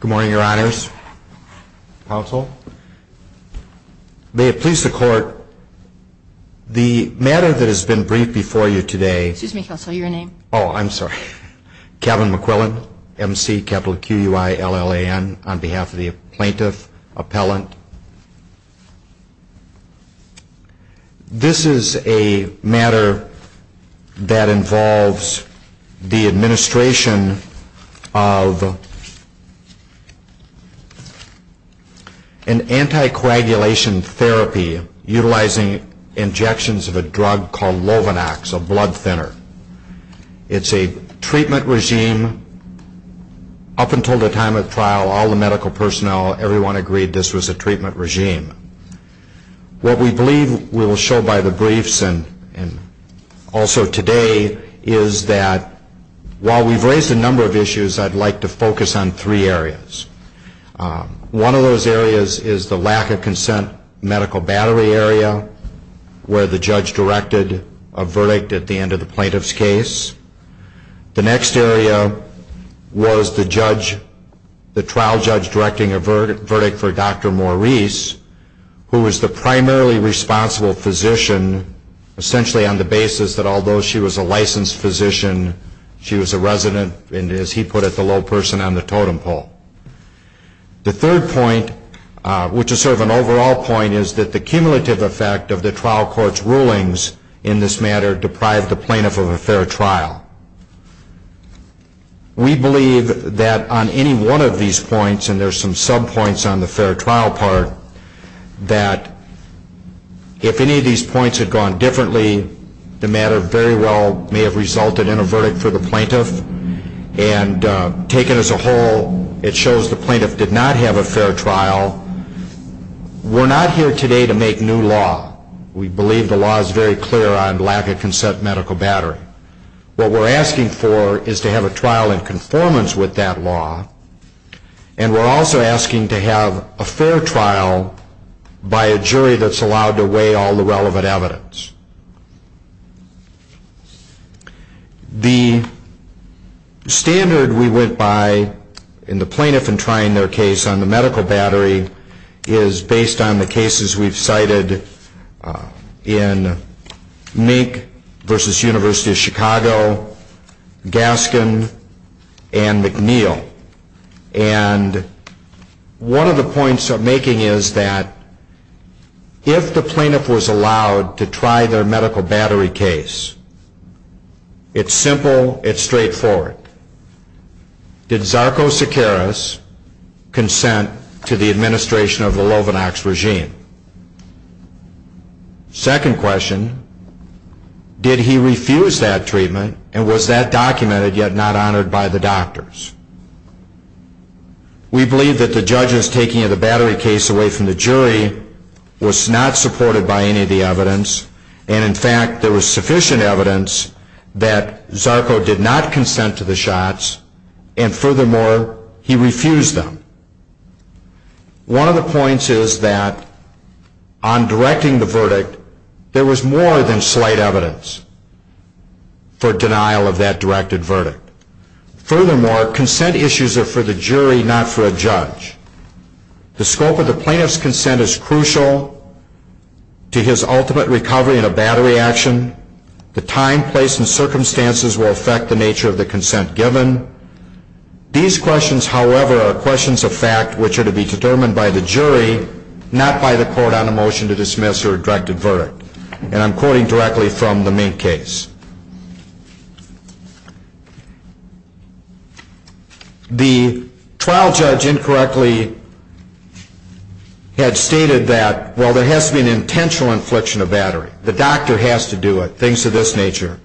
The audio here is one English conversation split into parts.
Good morning, your honors, counsel. May it please the court, the matter that has been briefed before you today Excuse me, counsel, your name? Oh, I'm sorry. Kevin McQuillan, M-C-Q-U-I-L-L-A-N, on behalf of the plaintiff, appellant. This is a matter that involves the administration of an anticoagulation therapy utilizing injections of a drug called Lovenox, a blood thinner. It's a treatment regime. Up until the time of trial, all the medical personnel, everyone agreed this was a treatment regime. What we believe we will show by the briefs and also today is that while we've raised a number of issues, I'd like to focus on three areas. One of those areas is the lack of consent medical battery area, where the judge directed a verdict at the end of the plaintiff's case. The next area was the trial judge directing a verdict for Dr. Maurice, who was the primarily responsible physician, essentially on the basis that although she was a licensed physician, she was a resident, and as he put it, the low person on the totem pole. The third point, which is sort of an overall point, is that the cumulative effect of the trial court's rulings in this matter deprived the plaintiff of a fair trial. We believe that on any one of these points, and there's some sub-points on the fair trial part, that if any of these points had gone differently, the matter very well may have resulted in a verdict for the plaintiff, and taken as a whole, it shows the plaintiff did not have a fair trial. We're not here today to make new law. We believe the law is very clear on lack of consent medical battery. What we're asking for is to have a trial in conformance with that law, and we're also asking to have a fair trial by a jury that's allowed to weigh all the relevant evidence. The standard we went by in the plaintiff in trying their case on the medical battery is based on the cases we've cited in Mink v. University of Chicago, Gaskin, and McNeil. One of the points I'm making is that if the plaintiff was allowed to try their medical battery case, it's simple, it's straightforward. Did Zarco-Sicaris consent to the administration of the Lovenox regime? Second question, did he refuse that treatment, and was that documented yet not honored by the doctors? We believe that the judge's taking of the battery case away from the jury was not supported by any of the evidence, and in fact, there was sufficient evidence that Zarco did not consent to the shots, and furthermore, he refused them. One of the points is that on directing the verdict, there was more than slight evidence for denial of that directed verdict. Furthermore, consent issues are for the jury, not for a judge. The scope of the plaintiff's consent is crucial to his ultimate recovery in a battery action. The time, place, and circumstances will affect the nature of the consent given. These questions, however, are questions of fact which are to be determined by the jury, not by the court on a motion to dismiss or a directed verdict, and I'm quoting directly from the main case. The trial judge incorrectly had stated that, well, there has to be an intentional infliction of battery. The doctor has to do it, things of this nature.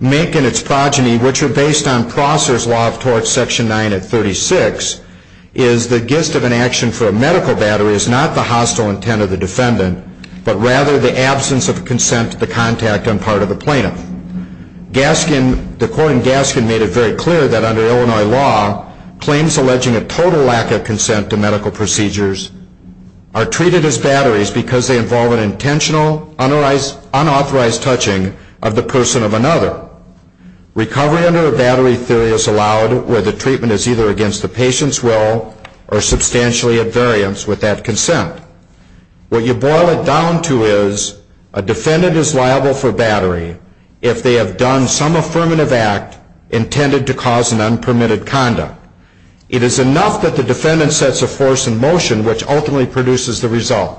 Mink and its progeny, which are based on Prosser's Law of Tort, Section 9 at 36, is the gist of an action for a medical battery is not the hostile intent of the defendant, but rather the absence of consent to the contact on part of the plaintiff. Gaskin, the court in Gaskin, made it very clear that under Illinois law, claims alleging a total lack of consent to medical procedures are treated as batteries because they involve an intentional, unauthorized touching of the person of another. Recovery under a battery theory is allowed where the treatment is either against the patient's will or substantially of variance with that consent. What you boil it down to is a defendant is liable for battery if they have done some affirmative act intended to cause an unpermitted conduct. It is enough that the defendant sets a force in motion which ultimately produces the result.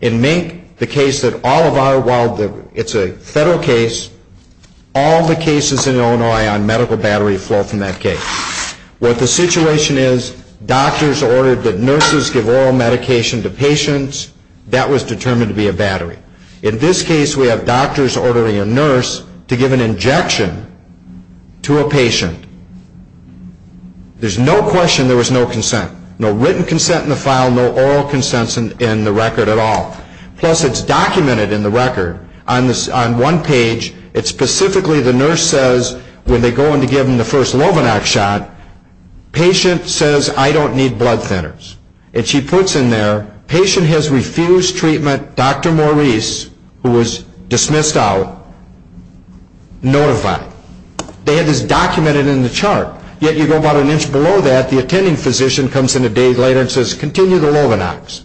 In Mink, the case that all of our, while it's a federal case, all the cases in Illinois on medical battery fall from that case. What the situation is, doctors ordered that nurses give oral medication to patients. That was determined to be a battery. In this case, we have doctors ordering a nurse to give an injection to a patient. There's no question there was no consent. No written consent in the file, no oral consents in the record at all. Plus, it's documented in the record on one page. It specifically, the nurse says when they go in to give him the first Lobanac shot, patient says, I don't need blood thinners. She puts in there, patient has refused treatment. Dr. Maurice, who was dismissed out, notified. That is documented in the chart. Yet you go about an inch below that, the attending physician comes in a day later and says, continue the Lobanacs.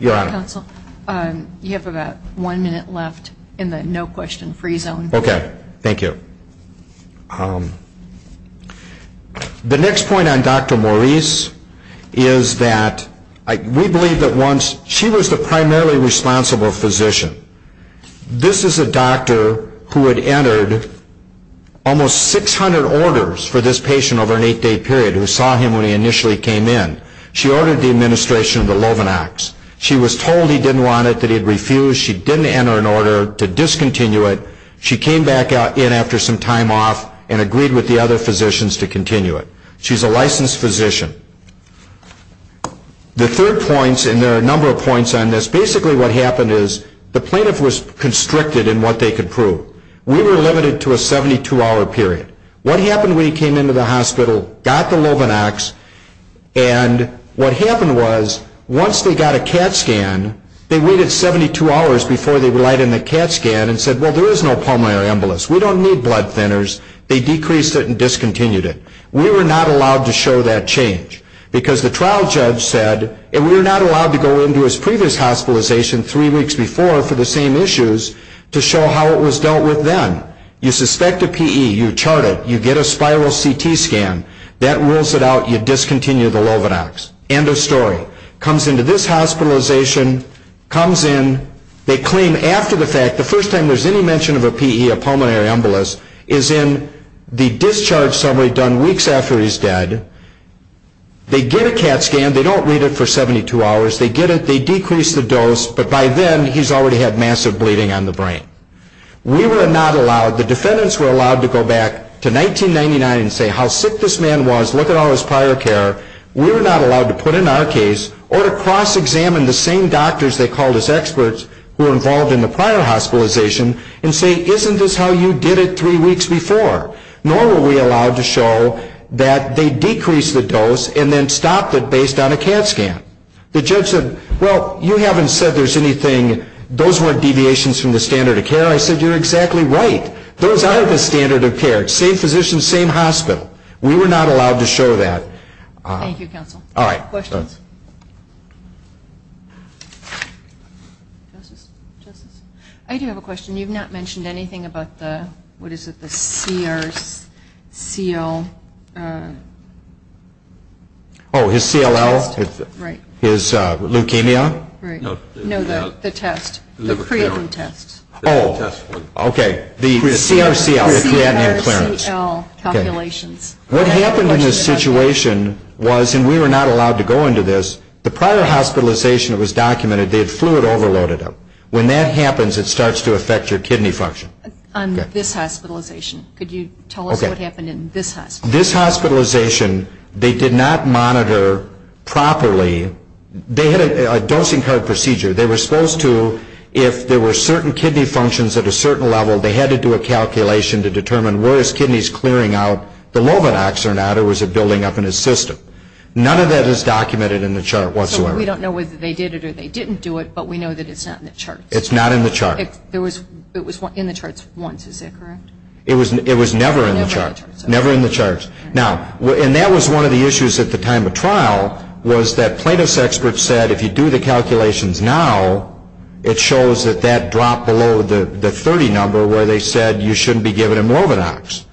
Your Honor. Counsel, you have about one minute left in the no question free zone. Okay. Thank you. The next point on Dr. Maurice is that we believe that once she was the primarily responsible physician. This is a doctor who had entered almost 600 orders for this patient over an eight-day period, who saw him when he initially came in. She ordered the administration of the Lobanacs. She was told he didn't want it, that he'd refuse. She didn't enter an order to discontinue it. She came back in after some time off and agreed with the other physicians to continue it. She's a licensed physician. The third point, and there are a number of points on this, basically what happened is the plaintiff was constricted in what they could prove. We were limited to a 72-hour period. What happened when he came into the hospital, got the Lobanacs, and what happened was once they got a CAT scan, they waited 72 hours before they would lighten the CAT scan and said, well, there is no pulmonary embolus. We don't need blood thinners. They decreased it and discontinued it. We were not allowed to show that change because the trial judge said that we were not allowed to go into his previous hospitalization three weeks before for the same issues to show how it was dealt with then. You suspect a PE, you chart it, you get a spiral CT scan. That rules it out. You discontinue the Lobanacs. End of story. Comes into this hospitalization, comes in, they claim after the fact, the first time there's any mention of a PE, a pulmonary embolus, is in the discharge summary done weeks after he's dead. They get a CAT scan. They don't leave it for 72 hours. They get it, they decrease the dose, but by then he's already had massive bleeding on the brain. We were not allowed, the defendants were allowed to go back to 1999 and say how sick this man was, look at all his prior care. We were not allowed to put in our case or to cross-examine the same doctors they called as experts who were involved in the prior hospitalization and say, isn't this how you did it three weeks before? Nor were we allowed to show that they decreased the dose and then stopped it based on a CAT scan. The judge said, well, you haven't said there's anything, those weren't deviations from the standard of care. I said, you're exactly right. Those are the standard of care. Same physician, same hospital. We were not allowed to show that. Thank you, counsel. All right. Questions? I do have a question. You've not mentioned anything about the, what is it, the CRCL? Oh, his CLL? Right. His leukemia? Right. No, the test. The preemptive test. Oh, okay. The CRCL. Preemptive clearance. Okay. What happened in this situation was, and we were not allowed to go into this, the prior hospitalization that was documented, they had fluid overloaded them. When that happens, it starts to affect your kidney function. On this hospitalization, could you tell us what happened in this hospitalization? This hospitalization, they did not monitor properly. They had a dosing code procedure. They were supposed to, if there were certain kidney functions at a certain level, they had to do a calculation to determine, were his kidneys clearing out the lobe locks or not, or was it building up in his system? None of that is documented in the chart whatsoever. We don't know whether they did it or they didn't do it, but we know that it's not in the chart. It's not in the chart. It was in the charts once, is that correct? It was never in the charts. Never in the charts. Now, and that was one of the issues at the time of trial, was that platelets experts said if you do the calculations now, it shows that that dropped below the 30 number where they said you shouldn't be given a Morbidox.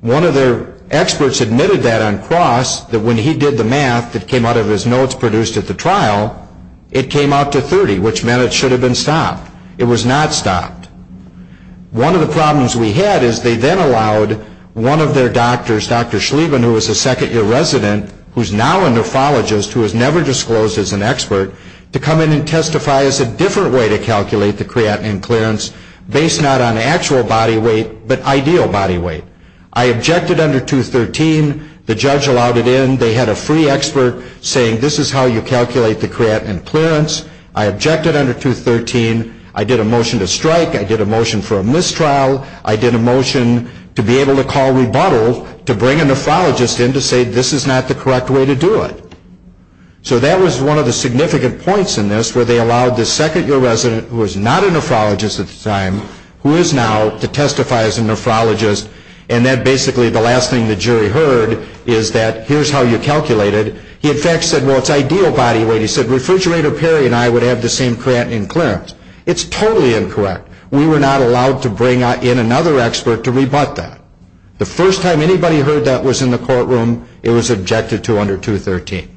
One of their experts admitted that on cross, that when he did the math that came out of his notes produced at the trial, it came out to 30, which meant it should have been stopped. It was not stopped. One of the problems we had is they then allowed one of their doctors, Dr. Schlieven, who was a second-year resident who's now a nephrologist who was never disclosed as an expert, to come in and testify as a different way to calculate the creatinine clearance based not on actual body weight but ideal body weight. I objected under 213. The judge allowed it in. They had a free expert saying this is how you calculate the creatinine clearance. I objected under 213. I did a motion to strike. I did a motion for a mistrial. I did a motion to be able to call rebuttal to bring a nephrologist in to say this is not the correct way to do it. So that was one of the significant points in this where they allowed this second-year resident who was not a nephrologist at the time who is now to testify as a nephrologist, and then basically the last thing the jury heard is that here's how you calculate it. He in fact said, well, it's ideal body weight. He said Refrigerator Perry and I would have the same creatinine clearance. It's totally incorrect. We were not allowed to bring in another expert to rebut that. The first time anybody heard that was in the courtroom, it was objected to under 213.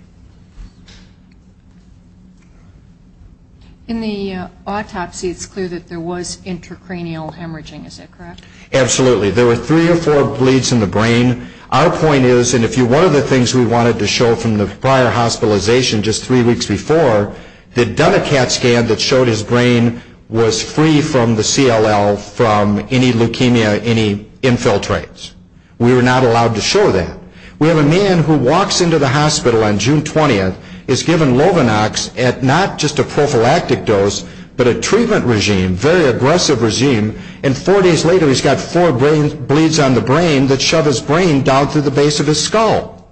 In the autopsy, it's clear that there was intracranial hemorrhaging. Is that correct? Absolutely. There were three or four bleeds in the brain. Our point is, and one of the things we wanted to show from the prior hospitalization just three weeks before, they'd done a CAT scan that showed his brain was free from the CLL, from any leukemia, any infiltrates. We were not allowed to show that. We have a man who walks into the hospital on June 20th, is given Lovenox at not just a prophylactic dose, but a treatment regime, very aggressive regime, and four days later he's got four bleeds on the brain that shove his brain down through the base of his skull.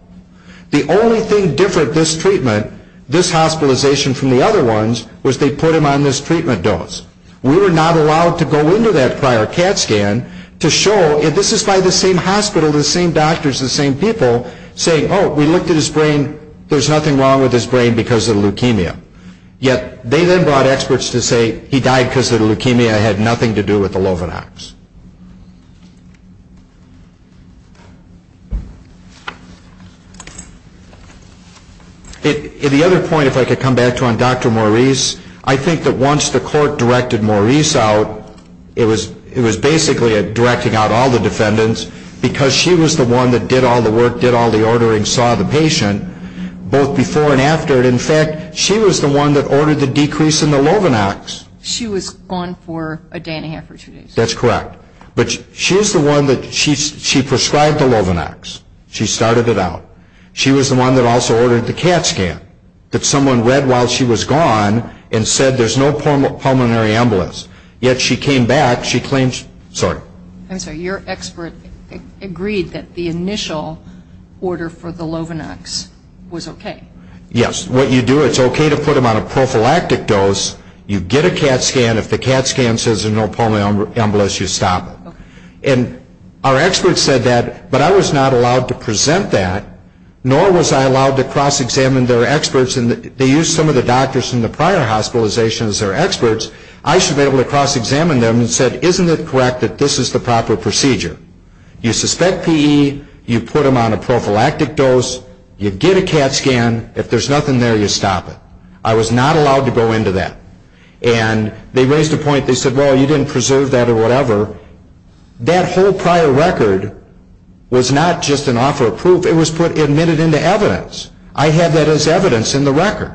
The only thing different this treatment, this hospitalization from the other ones, was they put him on this treatment dose. We were not allowed to go into that prior CAT scan to show, and this is by the same hospital, the same doctors, the same people, saying, oh, we looked at his brain, there's nothing wrong with his brain because of leukemia. Yet they then brought experts to say he died because the leukemia had nothing to do with the Lovenox. The other point, if I could come back to on Dr. Maurice, I think that once the court directed Maurice out, it was basically directing out all the defendants because she was the one that did all the work, did all the ordering, saw the patient, both before and after. In fact, she was the one that ordered the decrease in the Lovenox. She was on for a day and a half or two days. That's correct. But she was the one that she prescribed the Lovenox. She started it out. She was the one that also ordered the CAT scan that someone read while she was gone and said there's no pulmonary embolus, yet she came back, she claimed, sorry. I'm sorry. Your expert agreed that the initial order for the Lovenox was okay. Yes. What you do, it's okay to put him on a prophylactic dose. You get a CAT scan. If the CAT scan says there's no pulmonary embolus, you stop it. Our experts said that, but I was not allowed to present that, nor was I allowed to cross-examine their experts. They used some of the doctors from the prior hospitalizations as their experts. I should have been able to cross-examine them and said, isn't it correct that this is the proper procedure? You suspect PE. You put him on a prophylactic dose. You get a CAT scan. If there's nothing there, you stop it. I was not allowed to go into that. They raised a point. They said, well, you didn't preserve that or whatever. That whole prior record was not just an offer of proof. It was admitted into evidence. I had that as evidence in the record.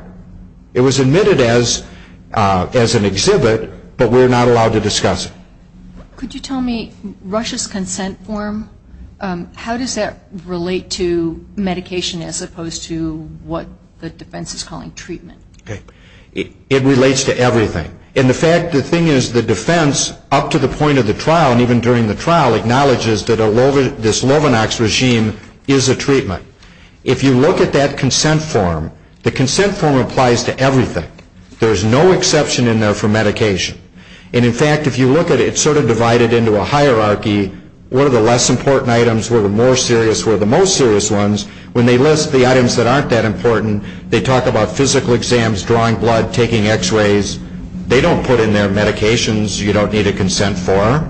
It was admitted as an exhibit, but we're not allowed to discuss it. Could you tell me Russia's consent form, how does that relate to medication as opposed to what the defense is calling treatment? It relates to everything. The thing is the defense, up to the point of the trial and even during the trial, acknowledges that this Lovenox regime is a treatment. If you look at that consent form, the consent form applies to everything. There is no exception in there for medication. In fact, if you look at it, it's sort of divided into a hierarchy. What are the less important items? What are the more serious? What are the most serious ones? When they list the items that aren't that important, they talk about physical exams, drawing blood, taking x-rays. They don't put in there medications you don't need a consent for.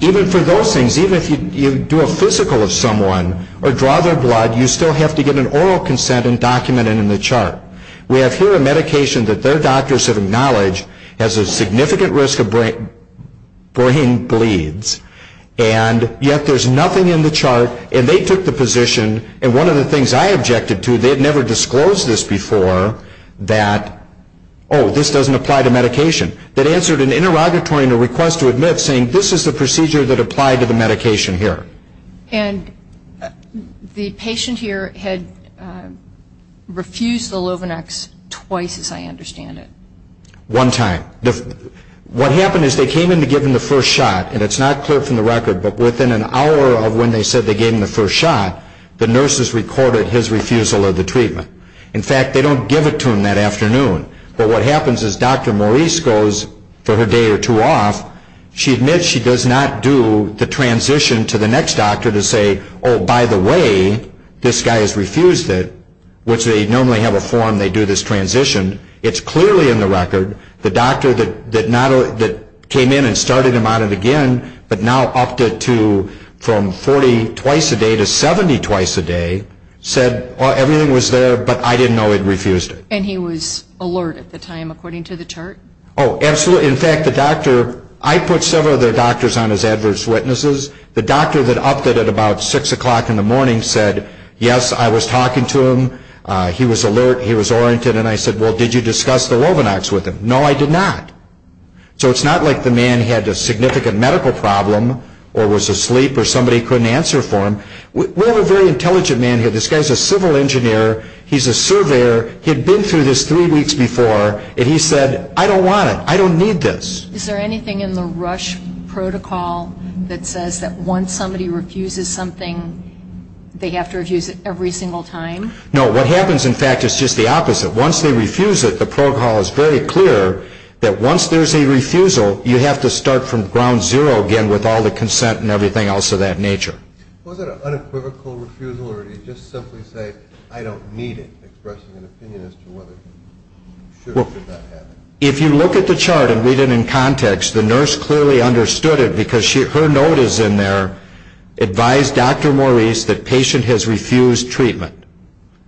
Even for those things, even if you do a physical of someone or draw their blood, you still have to get an oral consent and document it in the chart. We have here a medication that their doctors have acknowledged has a significant risk of brain bleeds, and yet there's nothing in the chart. And they took the position, and one of the things I objected to, they had never disclosed this before, that, oh, this doesn't apply to medication. They answered an interrogatory request to admit, saying, this is the procedure that applied to the medication here. And the patient here had refused the Luvonex twice, as I understand it. One time. What happened is they came in to give him the first shot, and it's not clear from the record, but within an hour of when they said they gave him the first shot, the nurses recorded his refusal of the treatment. In fact, they don't give it to him that afternoon. But what happens is Dr. Maurice goes for her day or two off. She admits she does not do the transition to the next doctor to say, oh, by the way, this guy has refused it, which they normally have a form they do this transition. It's clearly in the record. The doctor that came in and started him on it again, but now upped it to from 40 twice a day to 70 twice a day, said, oh, everything was there, but I didn't know he'd refused it. And he was alert at the time, according to the chart? Oh, absolutely. In fact, the doctor, I put several of their doctors on as adverse witnesses. The doctor that upped it at about 6 o'clock in the morning said, yes, I was talking to him. He was alert. He was oriented. And I said, well, did you discuss the Luvonex with him? No, I did not. So it's not like the man had a significant medical problem or was asleep or somebody couldn't answer for him. We have a very intelligent man here. This guy's a civil engineer. He's a surveyor. He had been through this three weeks before, and he said, I don't want it. I don't need this. Is there anything in the Rush protocol that says that once somebody refuses something, they have to refuse it every single time? No, what happens, in fact, is just the opposite. Once they refuse it, the protocol is very clear that once there's a refusal, you have to start from ground zero again with all the consent and everything else of that nature. Was it an unequivocal refusal or did he just simply say, I don't need it, expressing an opinion as to whether or not that happened? If you look at the chart and read it in context, the nurse clearly understood it because her note is in there, advise Dr. Maurice that patient has refused treatment.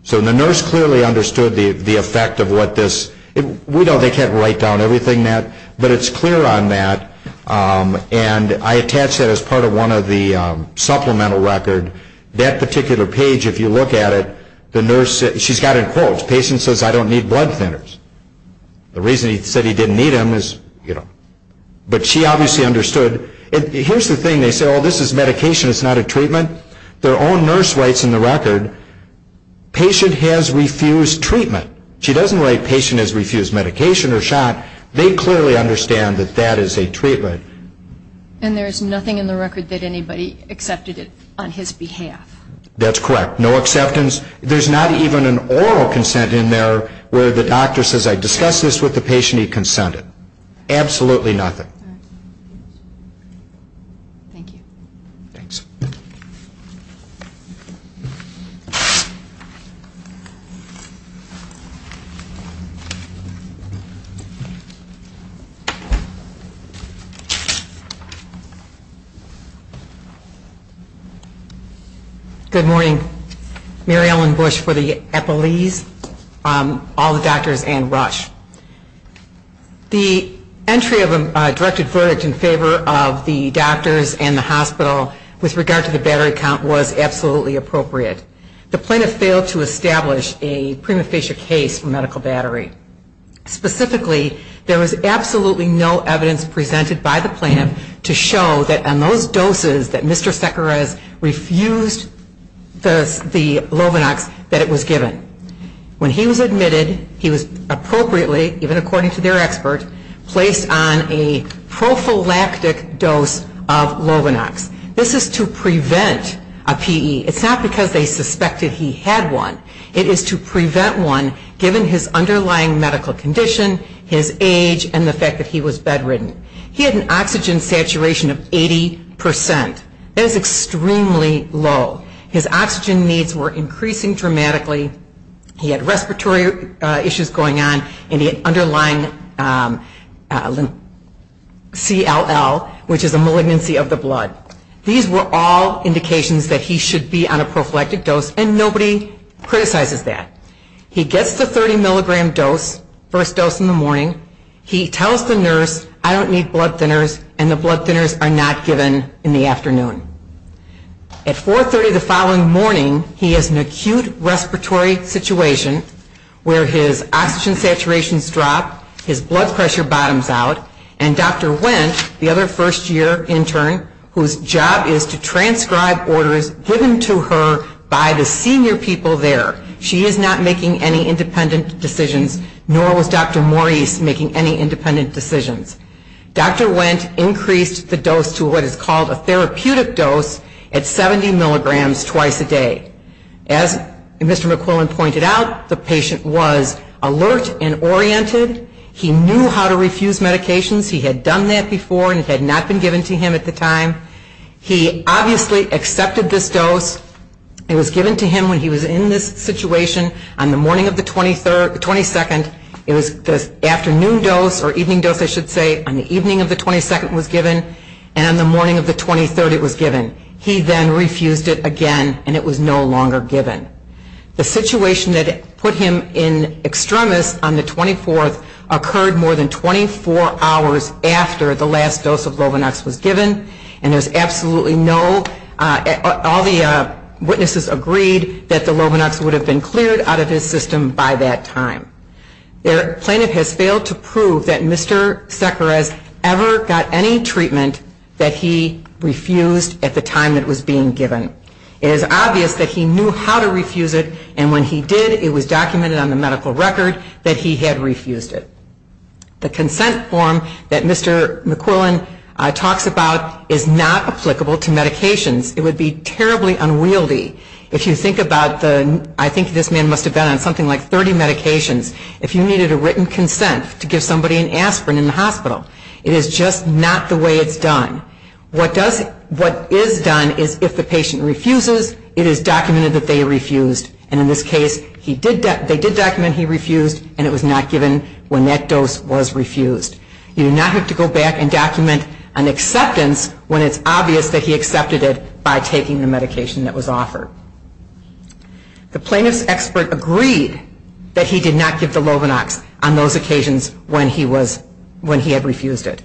So the nurse clearly understood the effect of what this – we know they can't write down everything, but it's clear on that. And I attached that as part of one of the supplemental records. That particular page, if you look at it, the nurse – she's got it in quotes. The patient says, I don't need blood thinners. The reason he said he didn't need them is – but she obviously understood. Here's the thing. They said, oh, this is medication. It's not a treatment. Their own nurse writes in the record, patient has refused treatment. She doesn't write patient has refused medication or shot. They clearly understand that that is a treatment. And there is nothing in the record that anybody accepted it on his behalf. That's correct. No acceptance. There's not even an oral consent in there where the doctor says, I discussed this with the patient. He consented. Absolutely nothing. Thank you. Thanks. Good morning. Mary Ellen Bush for the Epilees, all the doctors and Rush. The entry of a directed verdict in favor of the doctors and the hospital with regard to the battery count was absolutely appropriate. The plaintiff failed to establish a prima facie case for medical battery. Specifically, there was absolutely no evidence presented by the plaintiff to show that on those doses that Mr. Sequeres refused the Lovinox that it was given. When he was admitted, he was appropriately, even according to their experts, placed on a prophylactic dose of Lovinox. This is to prevent a PE. It's not because they suspected he had one. It is to prevent one given his underlying medical condition, his age, and the fact that he was bedridden. He had an oxygen saturation of 80%. That is extremely low. His oxygen needs were increasing dramatically. He had respiratory issues going on, and he had underlying CLL, which is a malignancy of the blood. These were all indications that he should be on a prophylactic dose, and nobody criticizes that. He gets the 30 milligram dose, first dose in the morning. He tells the nurse, I don't need blood thinners, and the blood thinners are not given in the afternoon. At 4.30 the following morning, he has an acute respiratory situation where his oxygen saturations drop, his blood pressure bottoms out, and Dr. Wendt, the other first-year intern, whose job is to transcribe orders given to her by the senior people there. She is not making any independent decisions, nor was Dr. Maurice making any independent decisions. Dr. Wendt increased the dose to what is called a therapeutic dose at 70 milligrams twice a day. As Mr. McClellan pointed out, the patient was alert and oriented. He knew how to refuse medications. He had done that before, and it had not been given to him at the time. He obviously accepted this dose. It was given to him when he was in this situation on the morning of the 22nd. It was the afternoon dose, or evening dose I should say, on the evening of the 22nd was given, and on the morning of the 23rd it was given. He then refused it again, and it was no longer given. The situation that put him in extremis on the 24th occurred more than 24 hours after the last dose of Lovonax was given, and there's absolutely no, all the witnesses agreed that the Lovonax would have been cleared out of his system by that time. The plaintiff has failed to prove that Mr. Sequeres ever got any treatment that he refused at the time it was being given. It is obvious that he knew how to refuse it, and when he did, it was documented on the medical record that he had refused it. The consent form that Mr. McClellan talks about is not applicable to medications. It would be terribly unwieldy. If you think about the, I think this man must have been on something like 30 medications, if you needed a written consent to give somebody an aspirin in the hospital, it is just not the way it's done. What is done is if the patient refuses, it is documented that they refused, and in this case they did document he refused, and it was not given when that dose was refused. You do not have to go back and document an acceptance when it's obvious that he accepted it by taking the medication that was offered. The plaintiff's expert agreed that he did not give the Lovonax on those occasions when he had refused it.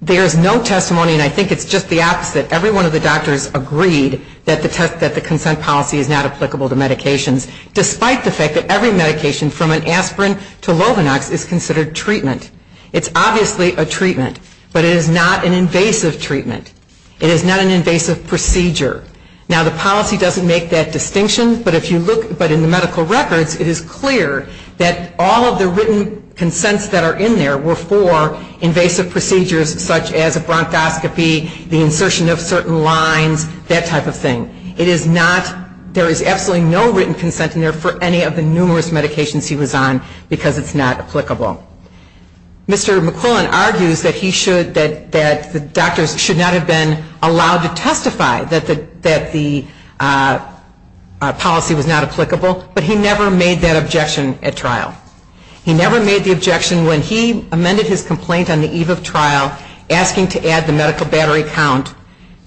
There is no testimony, and I think it's just the opposite. Every one of the doctors agreed that the consent policy is not applicable to medications, despite the fact that every medication from an aspirin to Lovonax is considered treatment. It's obviously a treatment, but it is not an invasive treatment. It is not an invasive procedure. Now, the policy doesn't make that distinction, but if you look, but in the medical records, it is clear that all of the written consents that are in there were for invasive procedures such as a bronchoscopy, the insertion of certain lines, that type of thing. There is absolutely no written consent in there for any of the numerous medications he was on because it's not applicable. Mr. McClellan argues that the doctors should not have been allowed to testify that the policy was not applicable, but he never made that objection at trial. He never made the objection when he amended his complaint on the eve of trial, asking to add the medical battery count.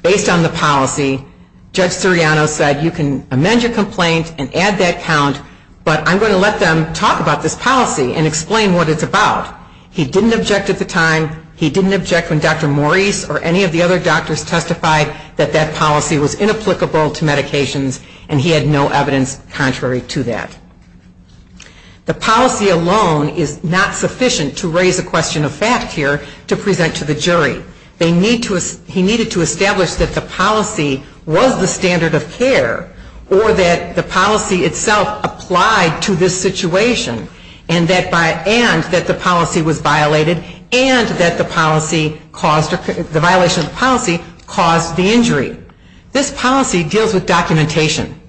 Based on the policy, Judge Siriano said, you can amend your complaint and add that count, but I'm going to let them talk about this policy and explain what it's about. He didn't object at the time. He didn't object when Dr. Maurice or any of the other doctors testified that that policy was inapplicable to medications, and he had no evidence contrary to that. The policy alone is not sufficient to raise the question of fast care to present to the jury. He needed to establish that the policy was the standard of care or that the policy itself applied to this situation and that the policy was violated and that the violation of the policy caused the injury. This policy deals with documentation.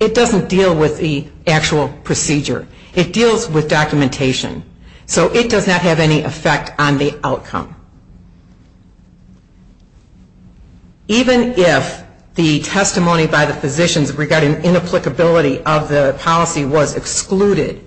It doesn't deal with the actual procedure. It deals with documentation. So it does not have any effect on the outcome. Even if the testimony by the physicians regarding inapplicability of the policy was excluded,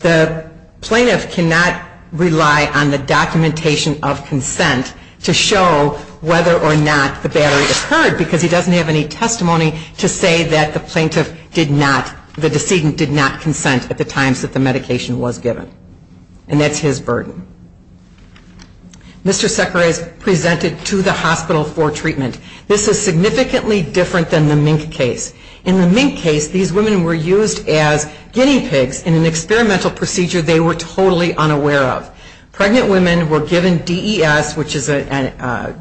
the plaintiff cannot rely on the documentation of consent to show whether or not the battery occurred because he doesn't have any testimony to say that the plaintiff did not, the decedent did not consent at the time that the medication was given. And that's his burden. Mr. Szekeres presented to the hospital for treatment. This is significantly different than the mink case. In the mink case, these women were used as guinea pigs in an experimental procedure they were totally unaware of. Pregnant women were given DES, which is a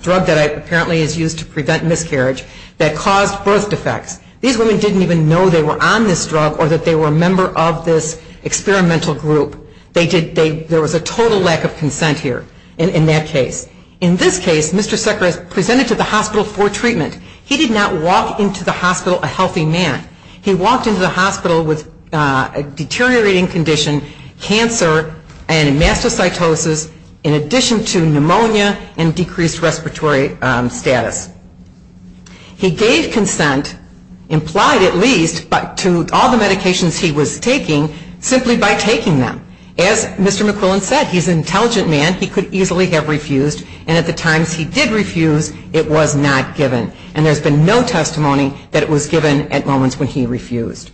drug that apparently is used to prevent miscarriage, that caused birth defects. These women didn't even know they were on this drug or that they were a member of this experimental group. There was a total lack of consent here in that case. In this case, Mr. Szekeres presented to the hospital for treatment. He did not walk into the hospital a healthy man. He walked into the hospital with a deteriorating condition, cancer and mastocytosis, in addition to pneumonia and decreased respiratory status. He gave consent, implied at least, to all the medications he was taking simply by taking them. As Mr. McClellan said, he's an intelligent man. He could easily have refused. And at the time he did refuse, it was not given. And there's been no testimony that it was given at moments when he refused.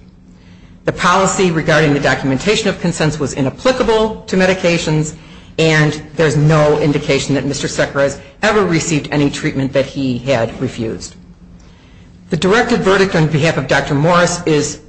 The policy regarding the documentation of consent was inapplicable to medications, and there's no indication that Mr. Szekeres ever received any treatment that he had refused. The directed verdict on behalf of Dr. Morris is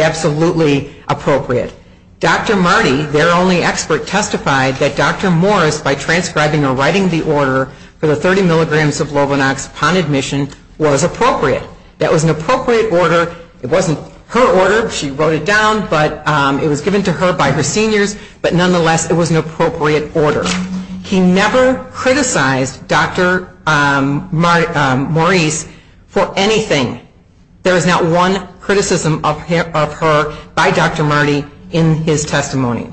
absolutely appropriate. Dr. Marty, their only expert, testified that Dr. Morris, by transcribing or writing the order for the 30 milligrams of Lovonox upon admission, was appropriate. That was an appropriate order. It wasn't her order. She wrote it down, but it was given to her by the seniors. But nonetheless, it was an appropriate order. He never criticized Dr. Morris for anything. There is not one criticism of her by Dr. Marty in his testimony.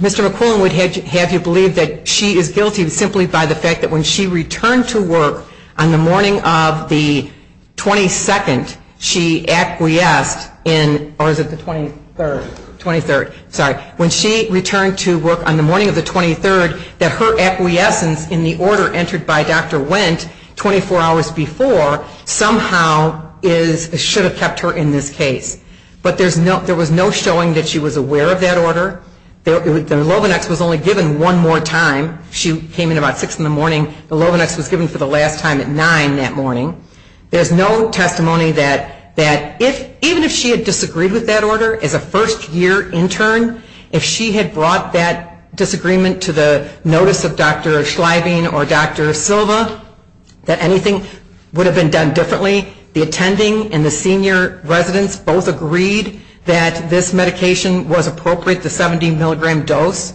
Mr. McClellan would have you believe that she is guilty simply by the fact that when she returned to work on the morning of the 22nd, she acquiesced in, or is it the 23rd? 23rd, sorry. When she returned to work on the morning of the 23rd, her acquiescence in the order entered by Dr. Wendt 24 hours before somehow should have kept her in this case. But there was no showing that she was aware of that order. The Lovonox was only given one more time. She came in about 6 in the morning. The Lovonox was given for the last time at 9 that morning. There's no testimony that even if she had disagreed with that order as a first-year intern, if she had brought that disagreement to the notice of Dr. Schlieving or Dr. Silva, that anything would have been done differently. The attending and the senior residents both agreed that this medication was appropriate, the 70-milligram dose.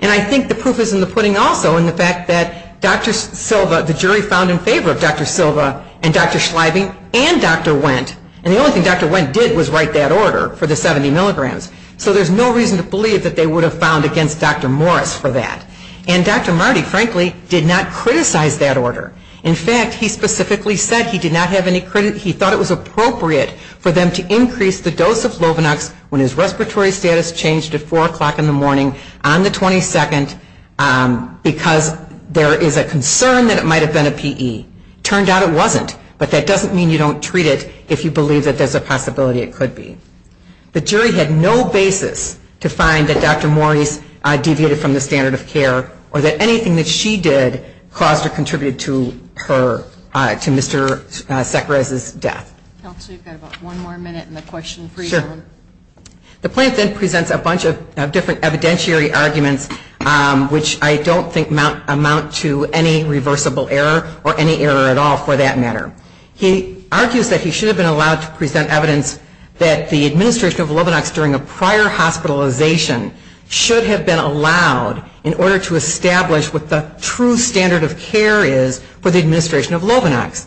And I think the proof is in the pudding also in the fact that Dr. Silva, the jury found in favor of Dr. Silva and Dr. Schlieving and Dr. Wendt. And the only thing Dr. Wendt did was write that order for the 70 milligrams. So there's no reason to believe that they would have found against Dr. Moritz for that. And Dr. Marty, frankly, did not criticize that order. In fact, he specifically said he did not have any criticism. He thought it was appropriate for them to increase the dose of Lovonox when his respiratory status changed at 4 o'clock in the morning on the 22nd because there is a concern that it might have been a PE. Turned out it wasn't. But that doesn't mean you don't treat it if you believe that there's a possibility it could be. The jury had no basis to find that Dr. Moritz deviated from the standard of care or that anything that she did caused or contributed to Mr. Sakharov's death. Actually, we've got about one more minute in the question. Sure. The plaintiff then presents a bunch of different evidentiary arguments which I don't think amount to any reversible error or any error at all for that matter. He argues that he should have been allowed to present evidence that the administration of Lovonox during a prior hospitalization should have been allowed in order to establish what the true standard of care is for the administration of Lovonox.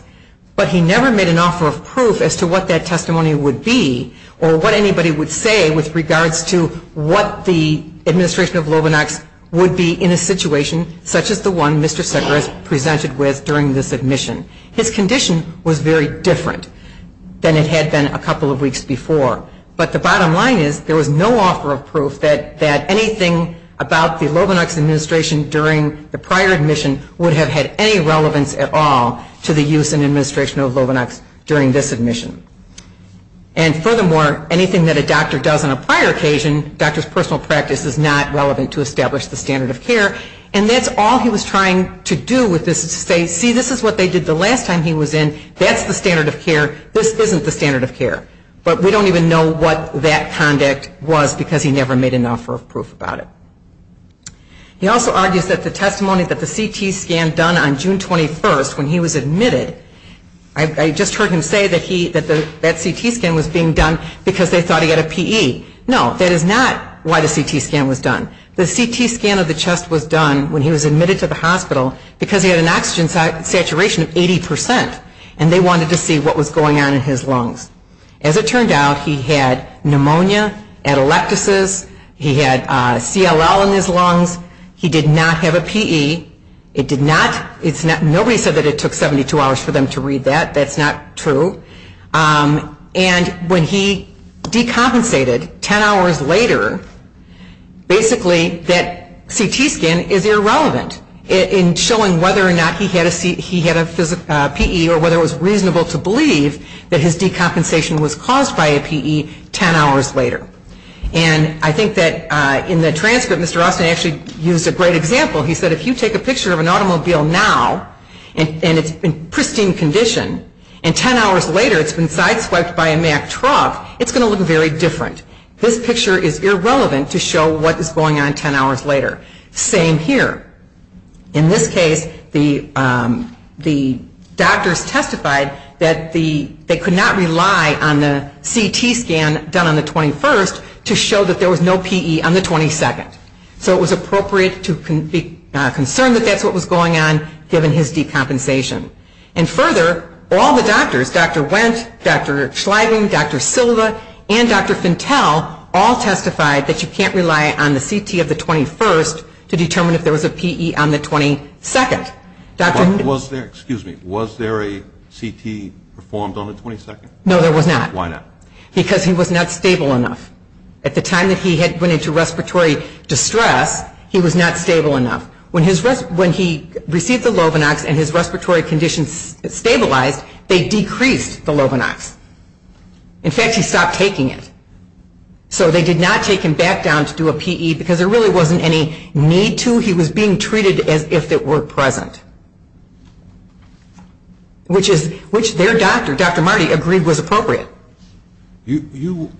But he never made an offer of proof as to what that testimony would be or what anybody would say with regards to what the administration of Lovonox would be in a situation such as the one Mr. Sakharov presented with during this admission. His condition was very different than it had been a couple of weeks before. But the bottom line is there was no offer of proof that anything about the Lovonox administration during the prior admission would have had any relevance at all to the use and administration of Lovonox during this admission. And furthermore, anything that a doctor does on a prior occasion, a doctor's personal practice is not relevant to establish the standard of care. And that's all he was trying to do was to say, see, this is what they did the last time he was in. That's the standard of care. This isn't the standard of care. But we don't even know what that conduct was because he never made an offer of proof about it. He also argues that the testimony that the CT scan done on June 21st when he was admitted, I just heard him say that that CT scan was being done because they thought he had a PE. No, that is not why the CT scan was done. The CT scan of the chest was done when he was admitted to the hospital because he had an oxygen saturation of 80%, and they wanted to see what was going on in his lungs. As it turned out, he had pneumonia, atelectasis. He had CLL in his lungs. He did not have a PE. Nobody said that it took 72 hours for them to read that. That's not true. And when he decompensated 10 hours later, basically that CT scan is irrelevant in showing whether or not he had a PE or whether it was reasonable to believe that his decompensation was caused by a PE 10 hours later. And I think that in the transcript, Mr. Austin actually used a great example. He said, if you take a picture of an automobile now, and it's in pristine condition, and 10 hours later it's been side-squashed by a Mack truck, it's going to look very different. This picture is irrelevant to show what was going on 10 hours later. Same here. In this case, the doctors testified that they could not rely on the CT scan done on the 21st to show that there was no PE on the 22nd. So it was appropriate to be concerned that that's what was going on, given his decompensation. And further, all the doctors, Dr. Wentz, Dr. Schlieving, Dr. Silva, and Dr. Fintel, all testified that you can't rely on the CT of the 21st to determine if there was a PE on the 22nd. Was there a CT performed on the 22nd? No, there was not. Why not? Because he was not stable enough. At the time that he went into respiratory distress, he was not stable enough. When he received the Lovenox and his respiratory condition stabilized, they decreased the Lovenox. In fact, he stopped taking it. So they did not take him back down to do a PE because there really wasn't any need to. He was being treated as if it were present, which their doctor, Dr. Marty, agreed was appropriate. You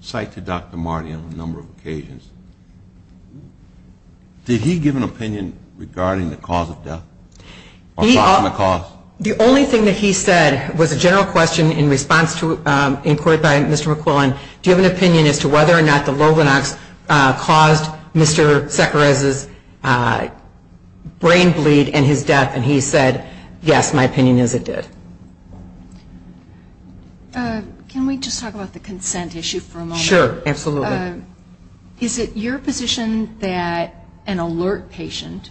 cite to Dr. Marty on a number of occasions. Did he give an opinion regarding the cause of death? The only thing that he said was a general question in response to an inquiry by Mr. McFarland, do you have an opinion as to whether or not the Lovenox caused Mr. Sekere's brain bleed and his death? And he said, yes, my opinion is it did. Can we just talk about the consent issue for a moment? Sure, absolutely. Is it your position that an alert patient,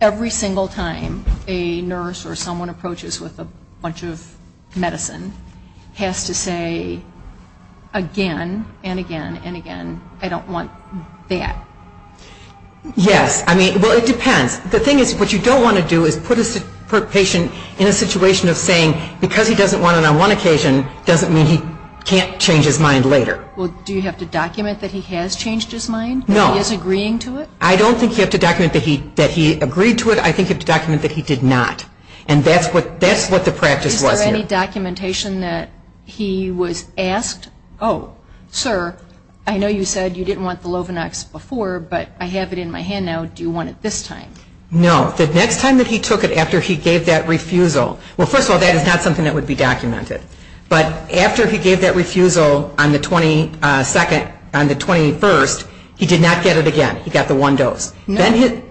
every single time a nurse or someone approaches with a bunch of medicine, has to say again and again and again, I don't want that? Yes. Well, it depends. The thing is, what you don't want to do is put a patient in a situation of saying, because he doesn't want it on one occasion doesn't mean he can't change his mind later. Well, do you have to document that he has changed his mind? No. That he's agreeing to it? I don't think you have to document that he agreed to it. I think you have to document that he did not. And that's what the practice was. Is there any documentation that he was asked, oh, sir, I know you said you didn't want the Lovenox before, but I have it in my hand now, do you want it this time? No. The next time that he took it after he gave that refusal, well, first of all, that is not something that would be documented. But after he gave that refusal on the 22nd, on the 21st, he did not get it again. He got the one dose. No,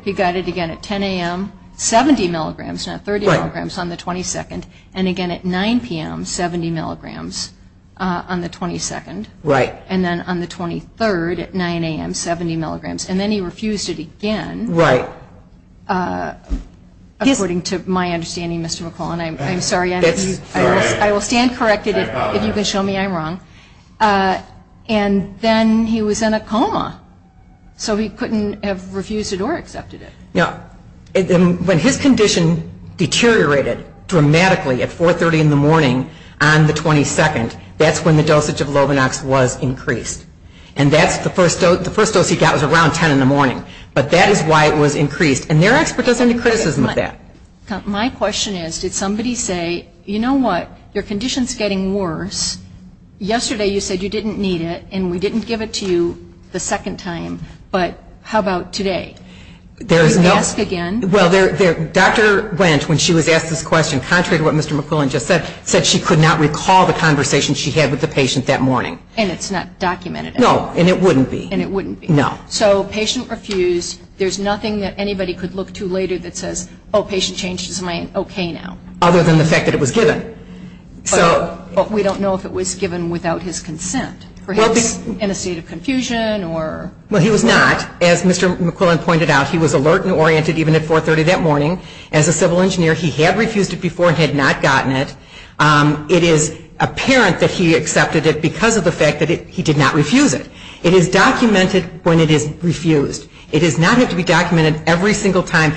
he got it again at 10 a.m., 70 milligrams, not 30 milligrams, on the 22nd, and again at 9 p.m., 70 milligrams on the 22nd. Right. And then on the 23rd at 9 a.m., 70 milligrams. And then he refused it again. Right. According to my understanding, Mr. McClellan, I'm sorry, I will stand corrected. If you can show me, I'm wrong. And then he was in a coma. So he couldn't have refused it or accepted it. When his condition deteriorated dramatically at 4.30 in the morning on the 22nd, that's when the dosage of Robinox was increased. And that's the first dose he got was around 10 in the morning. But that is why it was increased. And there aren't any criticisms of that. My question is, did somebody say, you know what, your condition is getting worse, yesterday you said you didn't need it, and we didn't give it to you the second time, but how about today? Did you ask again? Well, Dr. Wendt, when she was asked this question, contrary to what Mr. McClellan just said, she could not recall the conversation she had with the patient that morning. And it's not documented. No, and it wouldn't be. And it wouldn't be. No. So patient refused, there's nothing that anybody could look to later that says, oh, patient changed his mind, okay now. Other than the fact that it was given. But we don't know if it was given without his consent. In a state of confusion or? Well, he was not. As Mr. McClellan pointed out, he was alert and oriented even at 4.30 that morning. As a civil engineer, he had refused it before and had not gotten it. It is apparent that he accepted it because of the fact that he did not refuse it. It is documented when it is refused. It does not have to be documented every single time.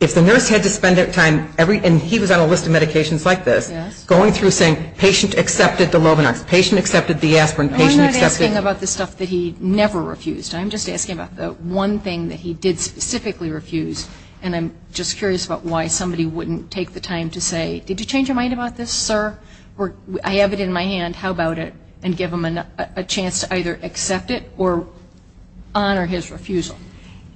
If the nurse had to spend that time, and he was on a list of medications like this, going through saying patient accepted the Lominar, patient accepted the aspirin, patient accepted. I'm not asking about the stuff that he never refused. I'm just asking about the one thing that he did specifically refuse. And I'm just curious about why somebody wouldn't take the time to say, did you change your mind about this, sir? I have it in my hand. How about it? And give him a chance to either accept it or honor his refusal.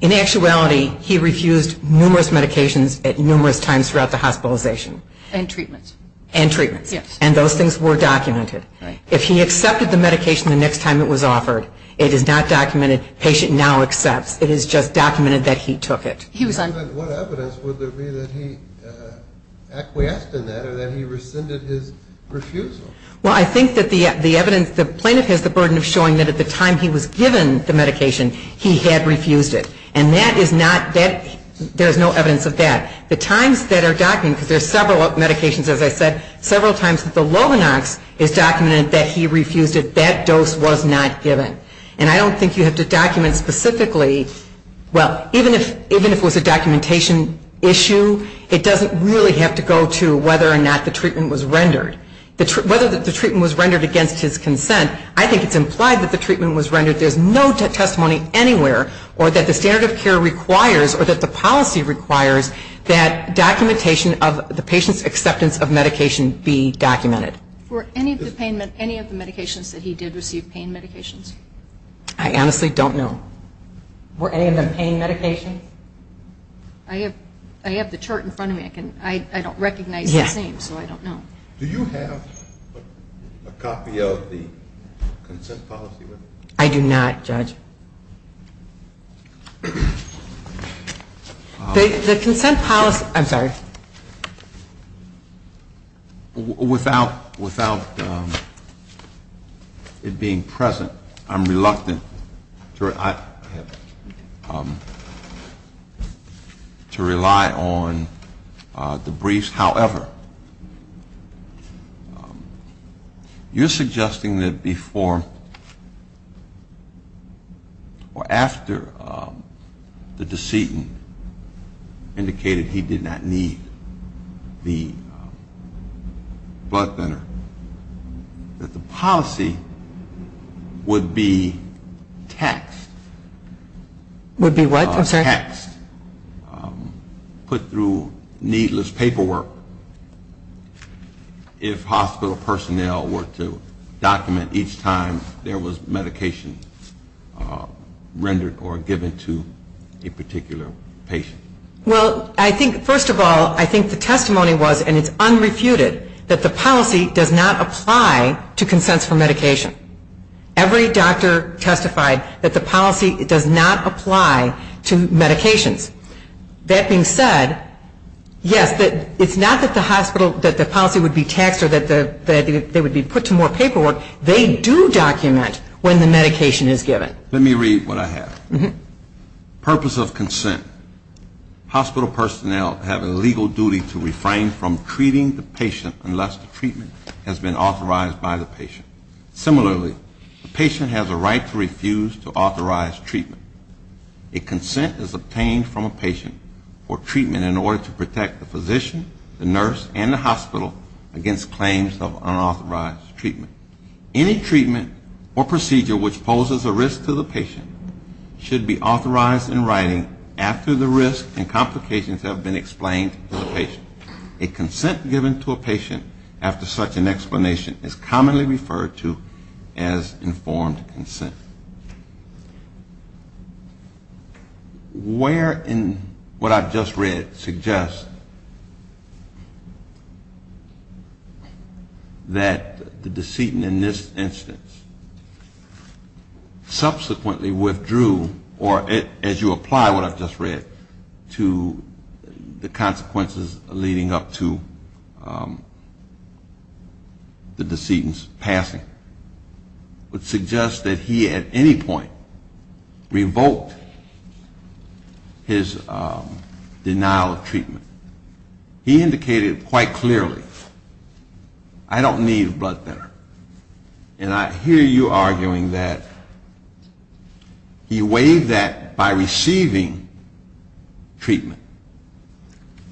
In actuality, he refused numerous medications at numerous times throughout the hospitalization. And treatments. And treatments. Yes. And those things were documented. If he accepted the medication the next time it was offered, it is not documented. Patient now accepts. It is just documented that he took it. What evidence would there be that he acquiesced in that or that he rescinded his refusal? Well, I think that the evidence, the plaintiff has the burden of showing that at the time he was given the medication, he had refused it. And that is not, there is no evidence of that. The times that are documented, there are several medications, as I said, several times that the Lominar is documented that he refused it. That dose was not given. And I don't think you have to document specifically, well, even if it was a documentation issue, it doesn't really have to go to whether or not the treatment was rendered. Whether the treatment was rendered against his consent, I think it is implied that the treatment was rendered. There is no testimony anywhere or that the standard of care requires or that the policy requires that documentation of the patient's acceptance of medication be documented. Were any of the medications that he did receive pain medications? I honestly don't know. Were any of them pain medications? I have the chart in front of me. I don't recognize his name, so I don't know. Do you have a copy of the consent policy? I do not, Judge. The consent policy, I'm sorry. Without it being present, I'm reluctant to rely on the briefs. However, you're suggesting that before or after the decedent indicated he did not need the blood thinner, that the policy would be text. Would be what? Put through needless paperwork if hospital personnel were to document each time there was medication rendered or given to a particular patient. Well, I think first of all, I think the testimony was, and it's unrefuted, that the policy does not apply to consents for medication. Every doctor testified that the policy does not apply to medications. That being said, yes, it's not that the policy would be text or that they would be put to more paperwork. They do document when the medication is given. Let me read what I have. Purpose of consent. Hospital personnel have a legal duty to refrain from treating the patient unless the treatment has been authorized by the patient. Similarly, the patient has a right to refuse to authorize treatment. A consent is obtained from a patient for treatment in order to protect the physician, the nurse, and the hospital against claims of unauthorized treatment. Any treatment or procedure which poses a risk to the patient should be authorized in writing after the risks and complications have been explained to the patient. A consent given to a patient after such an explanation is commonly referred to as informed consent. Where in what I've just read suggests that the decedent in this instance subsequently withdrew, or as you apply what I've just read to the consequences leading up to the decedent's passing, would suggest that he at any point revoked his denial of treatment. He indicated quite clearly, I don't need a blood thinner. And I hear you arguing that he weighed that by receiving treatment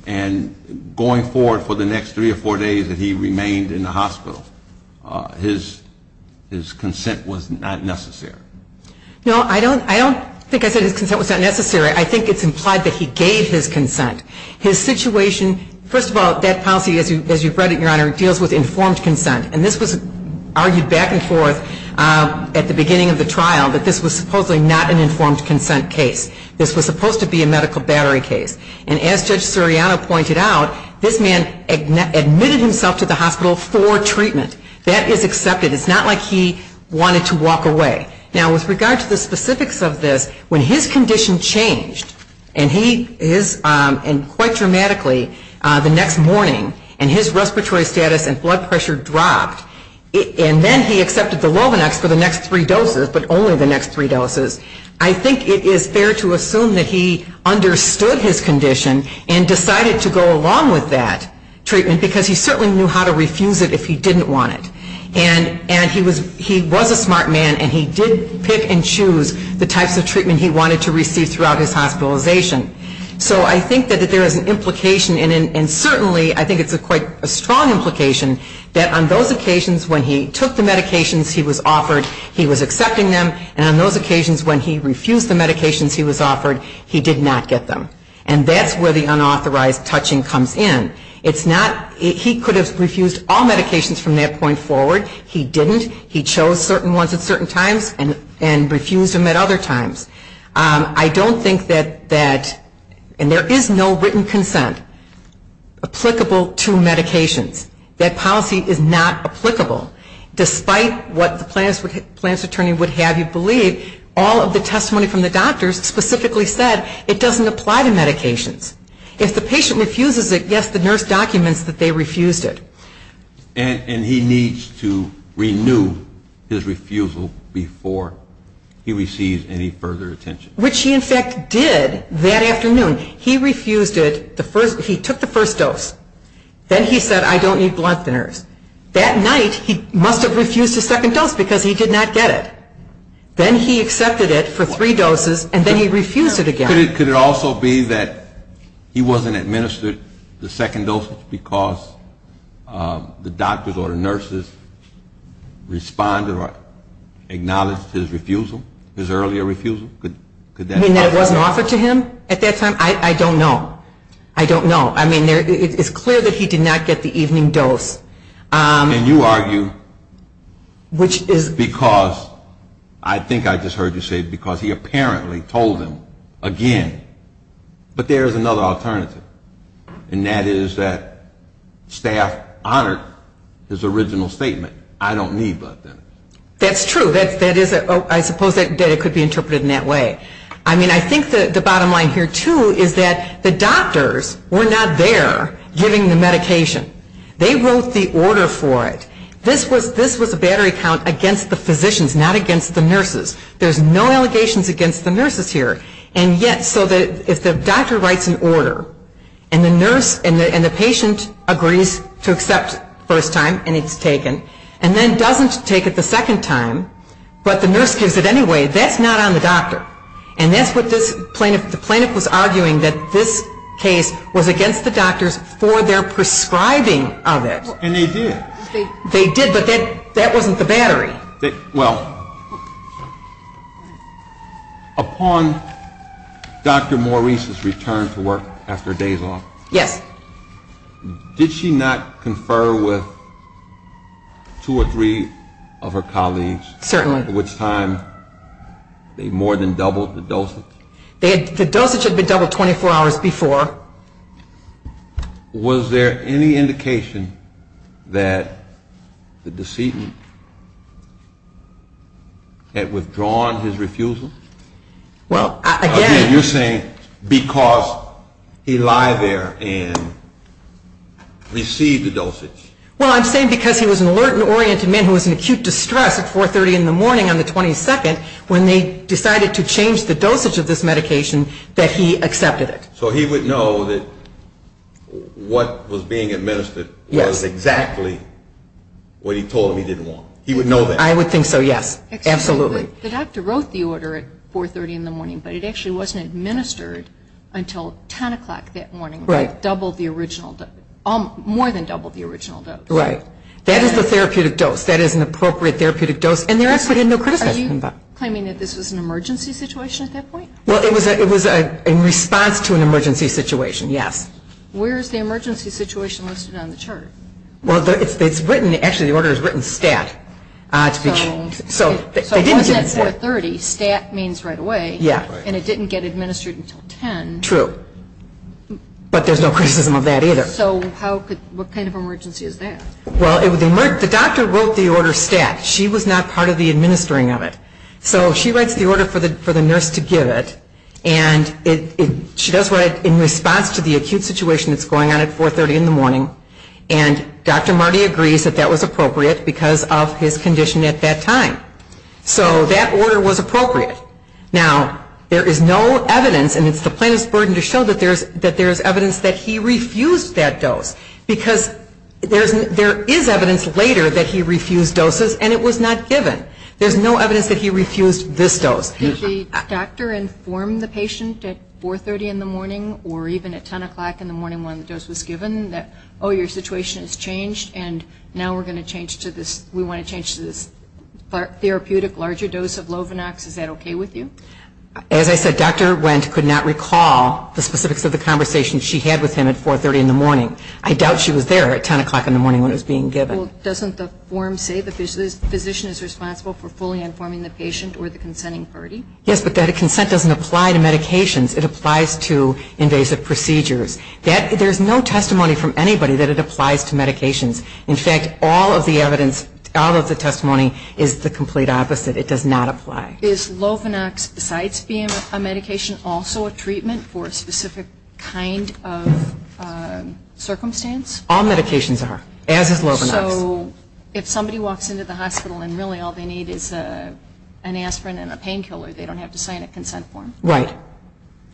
and going forward for the next three or four days that he remained in the hospital. His consent was not necessary. No, I don't think I said his consent was not necessary. I think it's implied that he gave his consent. His situation, first of all, as you've read it, Your Honor, it deals with informed consent. And this was argued back and forth at the beginning of the trial that this was supposedly not an informed consent case. This was supposed to be a medical battery case. And as Judge Suriano pointed out, this man admitted himself to the hospital for treatment. That is accepted. It's not like he wanted to walk away. Now, with regard to the specifics of this, when his condition changed, and quite dramatically the next morning, and his respiratory status and blood pressure dropped, and then he accepted the Robinex for the next three doses, but only the next three doses, I think it is fair to assume that he understood his condition and decided to go along with that treatment because he certainly knew how to refuse it if he didn't want it. And he was a smart man, and he did pick and choose the types of treatment he wanted to receive throughout his hospitalization. So I think that there is an implication, and certainly I think it's quite a strong implication, that on those occasions when he took the medications he was offered, he was accepting them, and on those occasions when he refused the medications he was offered, he did not get them. And that's where the unauthorized touching comes in. It's not, he could have refused all medications from that point forward. He didn't. He chose certain ones at certain times and refused them at other times. I don't think that, and there is no written consent applicable to medications. That policy is not applicable. Despite what the plans attorney would have you believe, all of the testimony from the doctors specifically said it doesn't apply to medications. If the patient refuses it, yes, the nurse documents that they refused it. And he needs to renew his refusal before he receives any further attention. Which he, in fact, did that afternoon. He refused it, he took the first dose. Then he said, I don't need blood, the nurse. That night he must have refused the second dose because he did not get it. Then he accepted it for three doses and then he refused it again. Could it also be that he wasn't administered the second dose because the doctors or the nurses responded or acknowledged his refusal, his earlier refusal? You mean that wasn't offered to him at that time? I don't know. I don't know. It's clear that he did not get the evening dose. And you argue because I think I just heard you say because he apparently told him again. But there is another alternative, and that is that staff honored his original statement, I don't need blood, the nurse. That's true. I suppose that could be interpreted in that way. I think the bottom line here, too, is that the doctors were not there giving the medication. They wrote the order for it. This was a battery count against the physicians, not against the nurses. There's no allegations against the nurses here. And yet, if the doctor writes an order and the patient agrees to accept it the first time and it's taken, and then doesn't take it the second time, but the nurse gives it anyway, that's not on the doctor. And that's what the plaintiff was arguing, that this case was against the doctors for their prescribing of it. And they did. They did, but that wasn't the battery. Well, upon Dr. Maurice's return to work after days off, Yes. did she not confer with two or three of her colleagues, at which time they more than doubled the dosage? The dosage had been doubled 24 hours before. Was there any indication that the decedent had withdrawn his refusal? Well, you're saying because he lied there and received the dosage. Well, I'm saying because he was an alert and oriented man who was in acute distress at 430 in the morning on the 22nd when they decided to change the dosage of this medication, that he accepted it. So he would know that what was being administered was exactly what he told him he didn't want. He would know that. I would think so, yes, absolutely. So the doctor wrote the order at 430 in the morning, but it actually wasn't administered until 10 o'clock that morning. Right. Doubled the original, more than doubled the original dose. Right. That is a therapeutic dose. That is an appropriate therapeutic dose. And the doctor had no question about it. Are you claiming that this was an emergency situation at that point? Well, it was in response to an emergency situation, yes. Where is the emergency situation listed on the chart? Well, it's written. Actually, the order is written stat. So at 430, stat means right away. Yes. And it didn't get administered until 10. True. But there's no criticism of that either. So what kind of emergency is that? Well, the doctor wrote the order stat. She was not part of the administering of it. So she writes the order for the nurse to give it. And she does it in response to the acute situation that's going on at 430 in the morning. And Dr. Marty agrees that that was appropriate because of his condition at that time. So that order was appropriate. Now, there is no evidence, and it's the plaintiff's burden to show that there's evidence that he refused that dose. Because there is evidence later that he refused doses, and it was not given. There's no evidence that he refused this dose. Did the doctor inform the patient at 430 in the morning or even at 10 o'clock in the morning when the dose was given that, oh, your situation has changed, and now we want to change to this therapeutic larger dose of Lovenox? Is that okay with you? As I said, Dr. Wendt could not recall the specifics of the conversation she had with him at 430 in the morning. I doubt she was there at 10 o'clock in the morning when it was being given. Well, doesn't the form say the physician is responsible for fully informing the patient or the consenting party? Yes, but that consent doesn't apply to medications. It applies to invasive procedures. There's no testimony from anybody that it applies to medications. In fact, all of the evidence, all of the testimony is the complete opposite. It does not apply. Is Lovenox, besides being a medication, also a treatment for a specific kind of circumstance? All medications are, as is Lovenox. So if somebody walks into the hospital and really all they need is an aspirin and a painkiller, they don't have to sign a consent form. Right.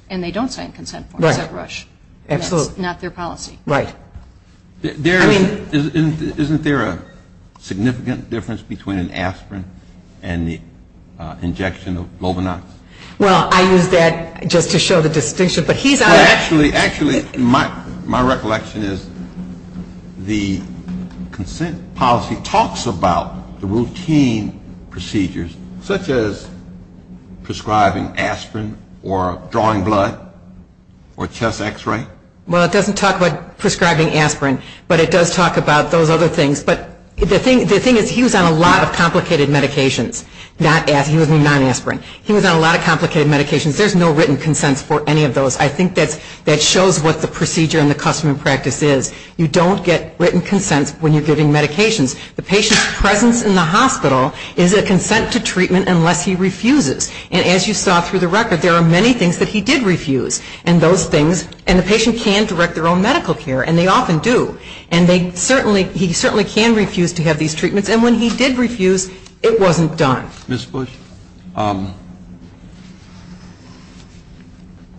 And they don't sign a consent form. Right. It's a rush. Absolutely. Not their policy. Right. Isn't there a significant difference between an aspirin and the injection of Lovenox? Well, I use that just to show the distinction. Actually, my recollection is the consent policy talks about the routine procedures, such as prescribing aspirin or drawing blood or chest X-ray. Well, it doesn't talk about prescribing aspirin, but it does talk about those other things. But the thing is he was on a lot of complicated medications. He was non-aspirin. He was on a lot of complicated medications. There's no written consent for any of those. I think that shows what the procedure and the custom and practice is. You don't get written consent when you're giving medications. The patient's presence in the hospital is a consent to treatment unless he refuses. And as you saw through the record, there are many things that he did refuse. And the patient can direct their own medical care, and they often do. And he certainly can refuse to have these treatments. And when he did refuse, it wasn't done. Ms. Bush,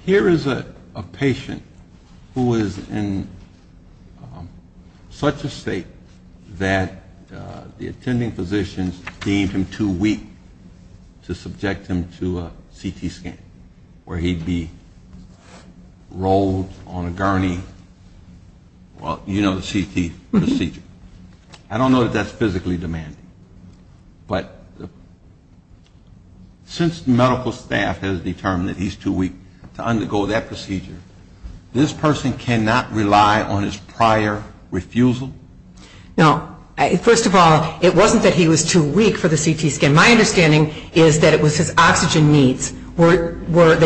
here is a patient who is in such a state that the attending physicians deemed him too weak to subject him to a CT scan, where he'd be rolled on a gurney. Well, you know the CT procedure. I don't know that that's physically demanding. But since medical staff has determined that he's too weak to undergo that procedure, this person cannot rely on his prior refusal? No. First of all, it wasn't that he was too weak for the CT scan. My understanding is that it was his oxygen needs. They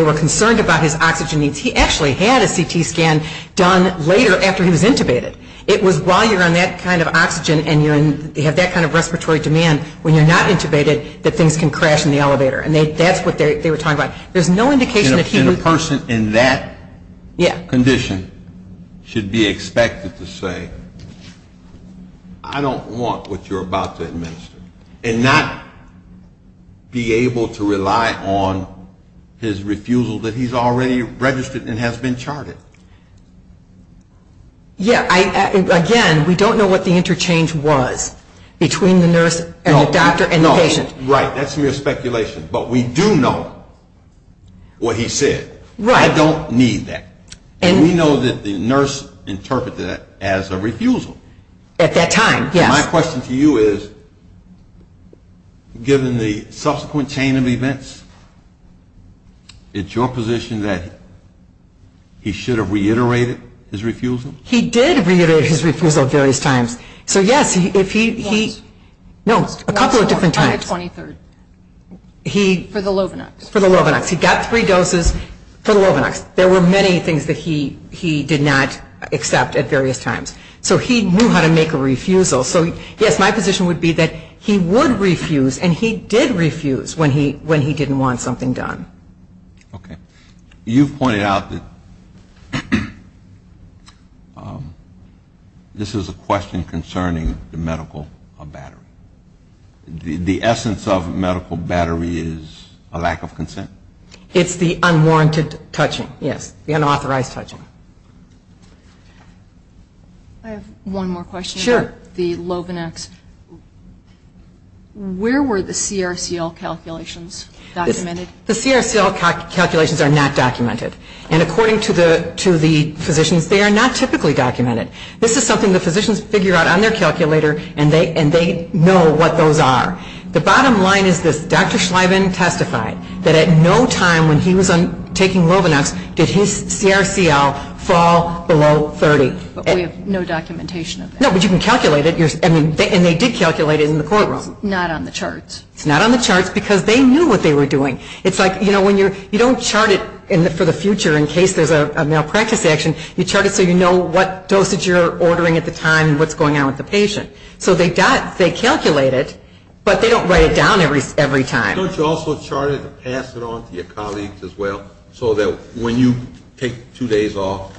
were concerned about his oxygen needs. He actually had a CT scan done later after he was intubated. It was while you're on that kind of oxygen and you have that kind of respiratory demand, when you're not intubated, that things can crash in the elevator. And that's what they were talking about. There's no indication that he was- And a person in that condition should be expected to say, I don't want what you're about to administer, and not be able to rely on his refusal that he's already registered and has been charted. Yeah. Again, we don't know what the interchange was between the nurse and the doctor and patient. Right. That's mere speculation. But we do know what he said. Right. I don't need that. And we know that the nurse interpreted that as a refusal. At that time, yeah. My question to you is, given the subsequent chain of events, is it your position that he should have reiterated his refusal? He did reiterate his refusal at various times. So, yes, if he- Once. No, a couple of different times. On the 23rd. For the Lovenox. For the Lovenox. He got three doses for the Lovenox. There were many things that he did not accept at various times. So he knew how to make a refusal. So, yes, my position would be that he would refuse, and he did refuse when he didn't want something done. Okay. You pointed out that this was a question concerning the medical battery. The essence of medical battery is a lack of consent. It's the unwarranted touching, yes. The unauthorized touching. I have one more question. Sure. The Lovenox. Where were the CRCL calculations documented? The CRCL calculations are not documented. And according to the physicians, they are not typically documented. This is something the physicians figure out on their calculator, and they know what those are. The bottom line is this. Dr. Schleiman testified that at no time when he was taking Lovenox, did his CRCL fall below 30. But we have no documentation of that. No, but you can calculate it. And they did calculate it in the courtroom. Not on the charts. Not on the charts, because they knew what they were doing. It's like, you know, when you're – you don't chart it for the future in case there's a malpractice action. You chart it so you know what doses you're ordering at the time and what's going on with the patient. So they calculate it, but they don't write it down every time. Don't you also chart it and pass it on to your colleagues as well, so that when you take two days off,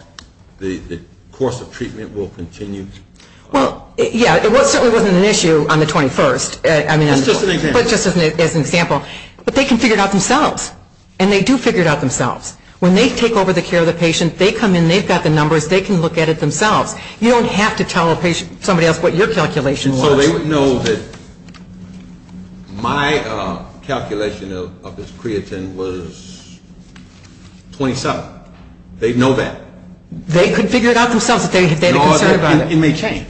the course of treatment will continue? Well, yeah. It certainly wasn't an issue on the 21st. Just as an example. But they can figure it out themselves. And they do figure it out themselves. When they take over the care of the patient, they come in, they've got the numbers, they can look at it themselves. You don't have to tell a patient, somebody else, what your calculation was. So they would know that my calculation of his creatine was 27. They'd know that. They could figure it out themselves. In all that time, it may change.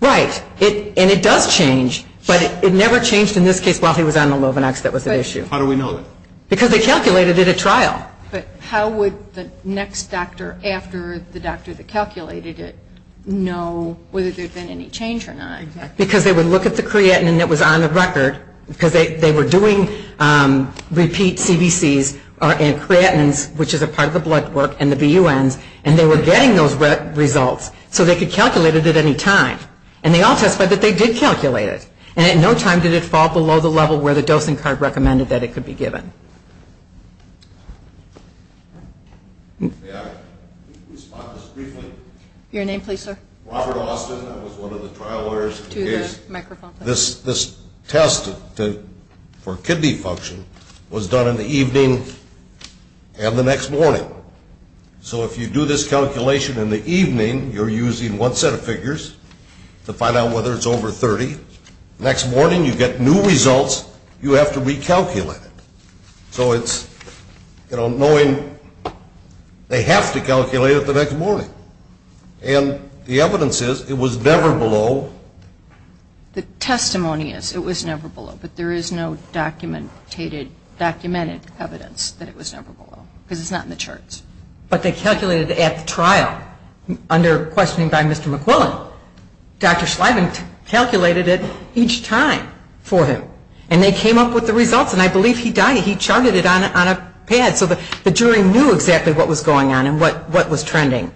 Right. And it does change. But it never changed in this case while he was on the Lovenox. How do we know that? Because they calculated it at trial. Yeah. But how would the next doctor, after the doctor that calculated it, know whether there's been any change or not? Because they would look at the creatine that was on the record, because they were doing repeat CBCs and creatines, which is a part of the blood work, and the BUNs, and they were getting those results. So they could calculate it at any time. And they also said that they did calculate it. And at no time did it fall below the level where the dosing card recommended that it could be given. Your name, please, sir? Robert Austin. I was one of the trial lawyers who gave this test for kidney function. It was done in the evening and the next morning. So if you do this calculation in the evening, you're using one set of figures to find out whether it's over 30. Next morning you get new results. You have to recalculate it. So it's, you know, knowing they have to calculate it the next morning. And the evidence is it was never below. The testimony is it was never below, but there is no documented evidence that it was never below, because it's not in the charts. But they calculated it at trial under questioning by Mr. McWilliams. Dr. Schleiven calculated it each time for him. And they came up with the results, and I believe he died. He chugged it on a pad so the jury knew exactly what was going on and what was trending.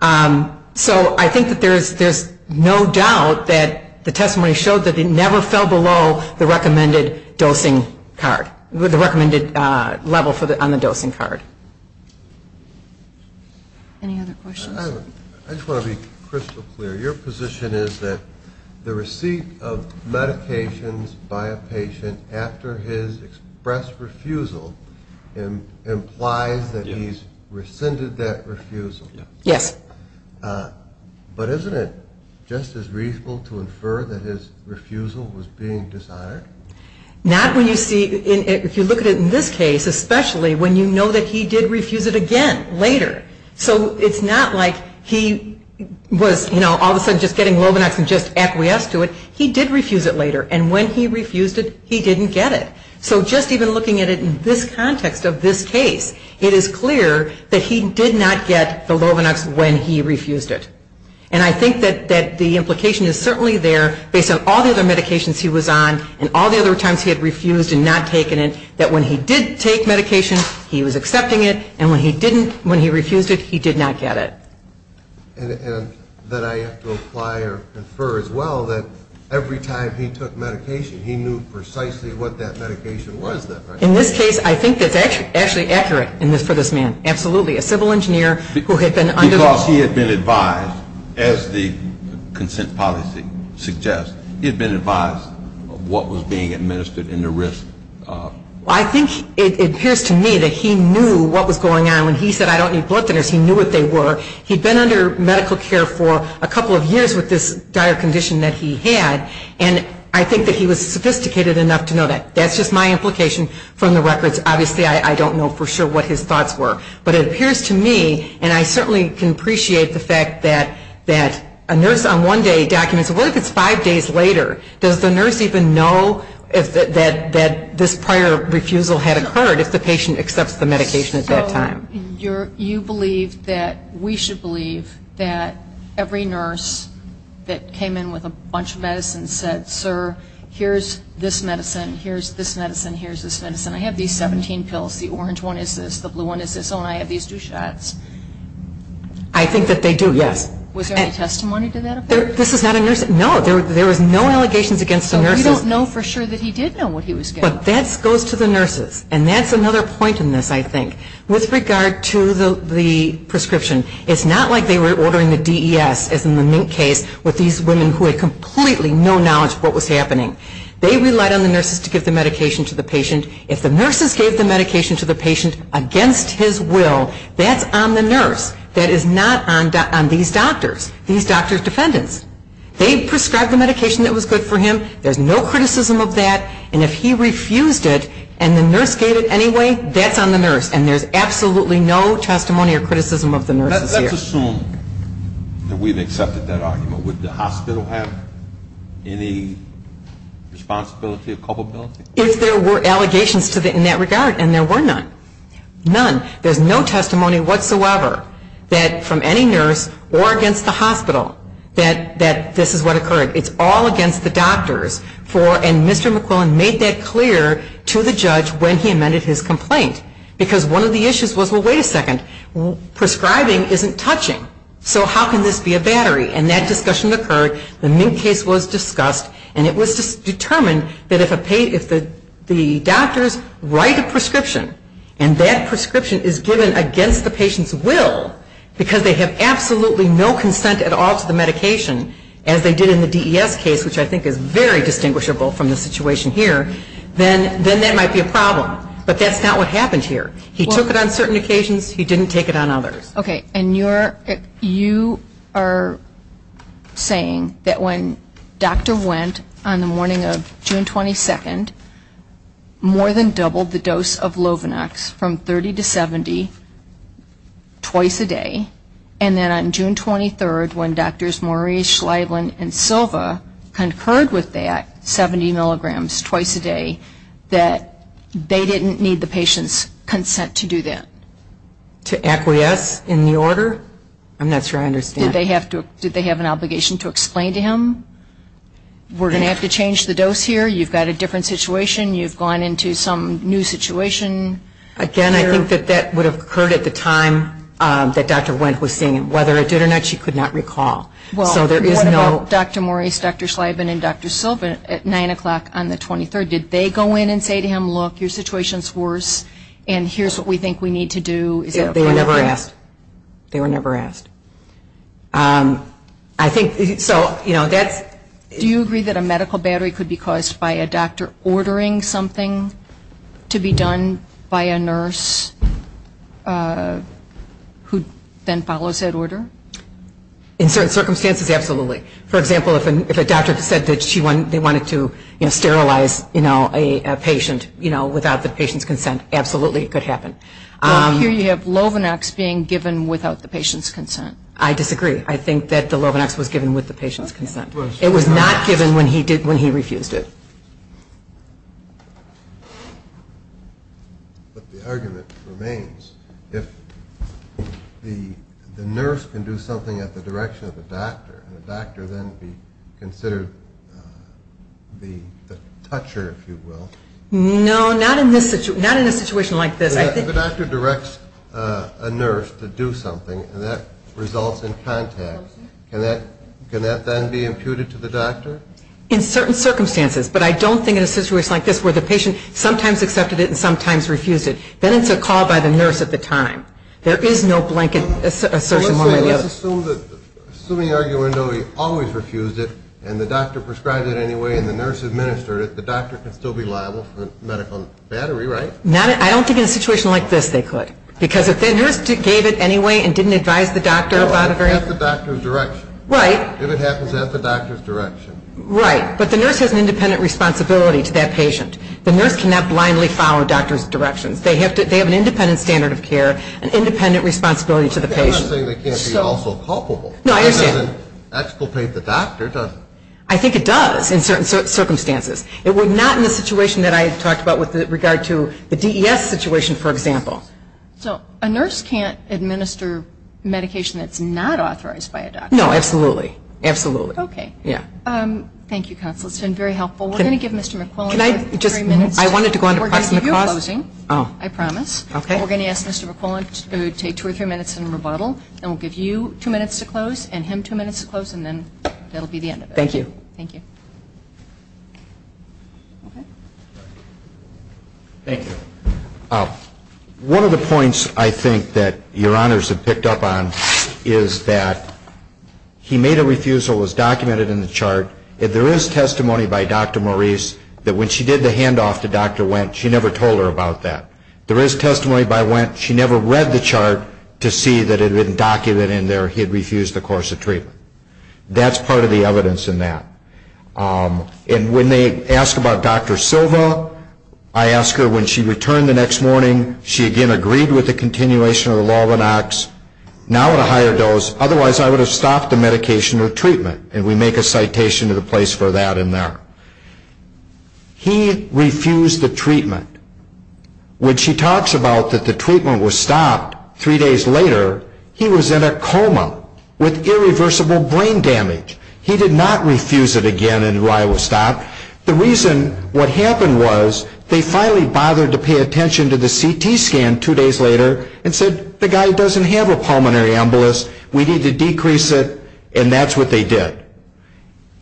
So I think that there's no doubt that the testimony showed that it never fell below the recommended dosing card, the recommended level on the dosing card. Any other questions? I just want to be crystal clear. Your position is that the receipt of medications by a patient after his expressed refusal implies that he's rescinded that refusal. Yes. But isn't it just as reasonable to infer that his refusal was being dishonored? Not when you see, if you look at it in this case, especially when you know that he did refuse it again later. So it's not like he was, you know, all of a sudden just getting low enough and just acquiesced to it. He did refuse it later, and when he refused it, he didn't get it. So just even looking at it in this context of this case, it is clear that he did not get the low enough when he refused it. And I think that the implication is certainly there, based on all the other medications he was on and all the other times he had refused and not taken it, that when he did take medication, he was accepting it, and when he refused it, he did not get it. And that I have to apply or infer as well that every time he took medication, he knew precisely what that medication was. In this case, I think it's actually accurate in this man. Absolutely. A civil engineer who had been under the... Because he had been advised, as the consent policy suggests, he had been advised of what was being administered and the risk. I think it appears to me that he knew what was going on. When he said, I don't need blood thinners, he knew what they were. He'd been under medical care for a couple of years with this dire condition that he had, and I think that he was sophisticated enough to know that. That's just my implication from the records. Obviously, I don't know for sure what his thoughts were. But it appears to me, and I certainly can appreciate the fact that a nurse on one day documents, what if it's five days later? Does the nurse even know that this prior refusal had occurred if the patient accepts the medication at that time? So you believe that we should believe that every nurse that came in with a bunch of medicine said, sir, here's this medicine, here's this medicine, here's this medicine. I have these 17 pills. The orange one is this. The blue one is this. And I have these two shots. I think that they do, yes. Was there any testimony to that? This is not a nurse... No, there were no allegations against the nurse. So you don't know for sure that he did know what he was getting. But that goes to the nurses. And that's another point in this, I think. With regard to the prescription, it's not like they were ordering a DES, as in the Mink case, with these women who had completely no knowledge of what was happening. They relied on the nurses to give the medication to the patient. If the nurses gave the medication to the patient against his will, that's on the nurse. That is not on these doctors, these doctors' defendants. They prescribed the medication that was good for him. There's no criticism of that. And if he refused it and the nurse gave it anyway, that's on the nurse. And there's absolutely no testimony or criticism of the nurses here. Let's assume that we've accepted that argument. Would the hospital have any responsibility or culpability? If there were allegations in that regard, and there were none. None. There's no testimony whatsoever from any nurse or against the hospital that this is what occurred. It's all against the doctors. And Mr. McClellan made that clear to the judge when he amended his complaint. Because one of the issues was, well, wait a second, prescribing isn't touching. So how can this be a battery? And that discussion occurred. The Mink case was discussed. And it was determined that if the doctors write a prescription and that prescription is given against the patient's will because they have absolutely no consent at all to the medication, as they did in the DES case, which I think is very distinguishable from the situation here, then that might be a problem. But that's not what happened here. He took it on certain occasions. He didn't take it on others. Okay. And you are saying that when Dr. Wendt, on the morning of June 22nd, more than doubled the dose of Lovenox from 30 to 70 twice a day, and then on June 23rd, when Drs. Morey, Schleierlin, and Silva concurred with that, 70 milligrams twice a day, that they didn't need the patient's consent to do that? To acquiesce in the order? I'm not sure I understand. Did they have an obligation to explain to him, we're going to have to change the dose here, you've got a different situation, you've gone into some new situation? Again, I think that that would have occurred at the time that Dr. Wendt was seeing him. Whether it did or not, she could not recall. Well, what about Dr. Morey, Dr. Schleierlin, and Dr. Silva at 9 o'clock on the 23rd? Did they go in and say to him, look, your situation is worse, and here's what we think we need to do? They were never asked. They were never asked. Do you agree that a medical battery could be caused by a doctor ordering something to be done by a nurse who then follows that order? In certain circumstances, absolutely. For example, if a doctor said that they wanted to sterilize a patient without the patient's consent, absolutely, it could happen. Here you have Lovenox being given without the patient's consent. I disagree. I think that the Lovenox was given with the patient's consent. It was not given when he refused it. But the argument remains. If the nurse can do something at the direction of the doctor, would the doctor then be considered the toucher, if you will? No, not in a situation like this. If the doctor directs a nurse to do something, and that results in contact, can that then be imputed to the doctor? In certain circumstances. But I don't think in a situation like this where the patient sometimes accepted it and sometimes refused it. Then it's a call by the nurse at the time. There is no blanket assertion. Let's assume the argument, though, he always refused it, and the doctor prescribed it anyway, and the nurse administered it, the doctor can still be liable for medical battery, right? I don't think in a situation like this they could. Because if the nurse gave it anyway and didn't advise the doctor about it, If it happens at the doctor's direction. Right. If it happens at the doctor's direction. Right. But the nurse has an independent responsibility to that patient. The nurse cannot blindly follow a doctor's direction. They have an independent standard of care, an independent responsibility to the patient. I'm not saying they can't be also culpable. No, I understand. It doesn't exculpate the doctor, does it? I think it does in certain circumstances. It would not in a situation that I talked about with regard to the DES situation, for example. So, a nurse can't administer medication that's not authorized by a doctor. No, absolutely. Absolutely. Okay. Thank you, Counselor. It's been very helpful. We're going to give Mr. McClellan two or three minutes. Can I just, I wanted to go on to partner talk. We're going to do a closing. Oh. I promise. Okay. We're going to ask Mr. McClellan to take two or three minutes in rebuttal, and we'll give you two minutes to close and him two minutes to close, and then that'll be the end of it. Thank you. Thank you. Okay. Thank you. One of the points I think that your honors have picked up on is that he made a refusal. It was documented in the chart. There is testimony by Dr. Maurice that when she did the handoff to Dr. Wendt, she never told her about that. There is testimony by Wendt, she never read the chart to see that it had been documented in there he had refused the course of treatment. That's part of the evidence in that. And when they ask about Dr. Silva, I ask her when she returned the next morning, she again agreed with the continuation of the law of an ox, now at a higher dose, otherwise I would have stopped the medication or treatment, and we make a citation to the place for that in there. He refused the treatment. When she talks about that the treatment was stopped three days later, he was in a coma with irreversible brain damage. He did not refuse it again and why it was stopped. The reason what happened was they finally bothered to pay attention to the CT scan two days later and said the guy doesn't have a pulmonary embolus, we need to decrease it, and that's what they did.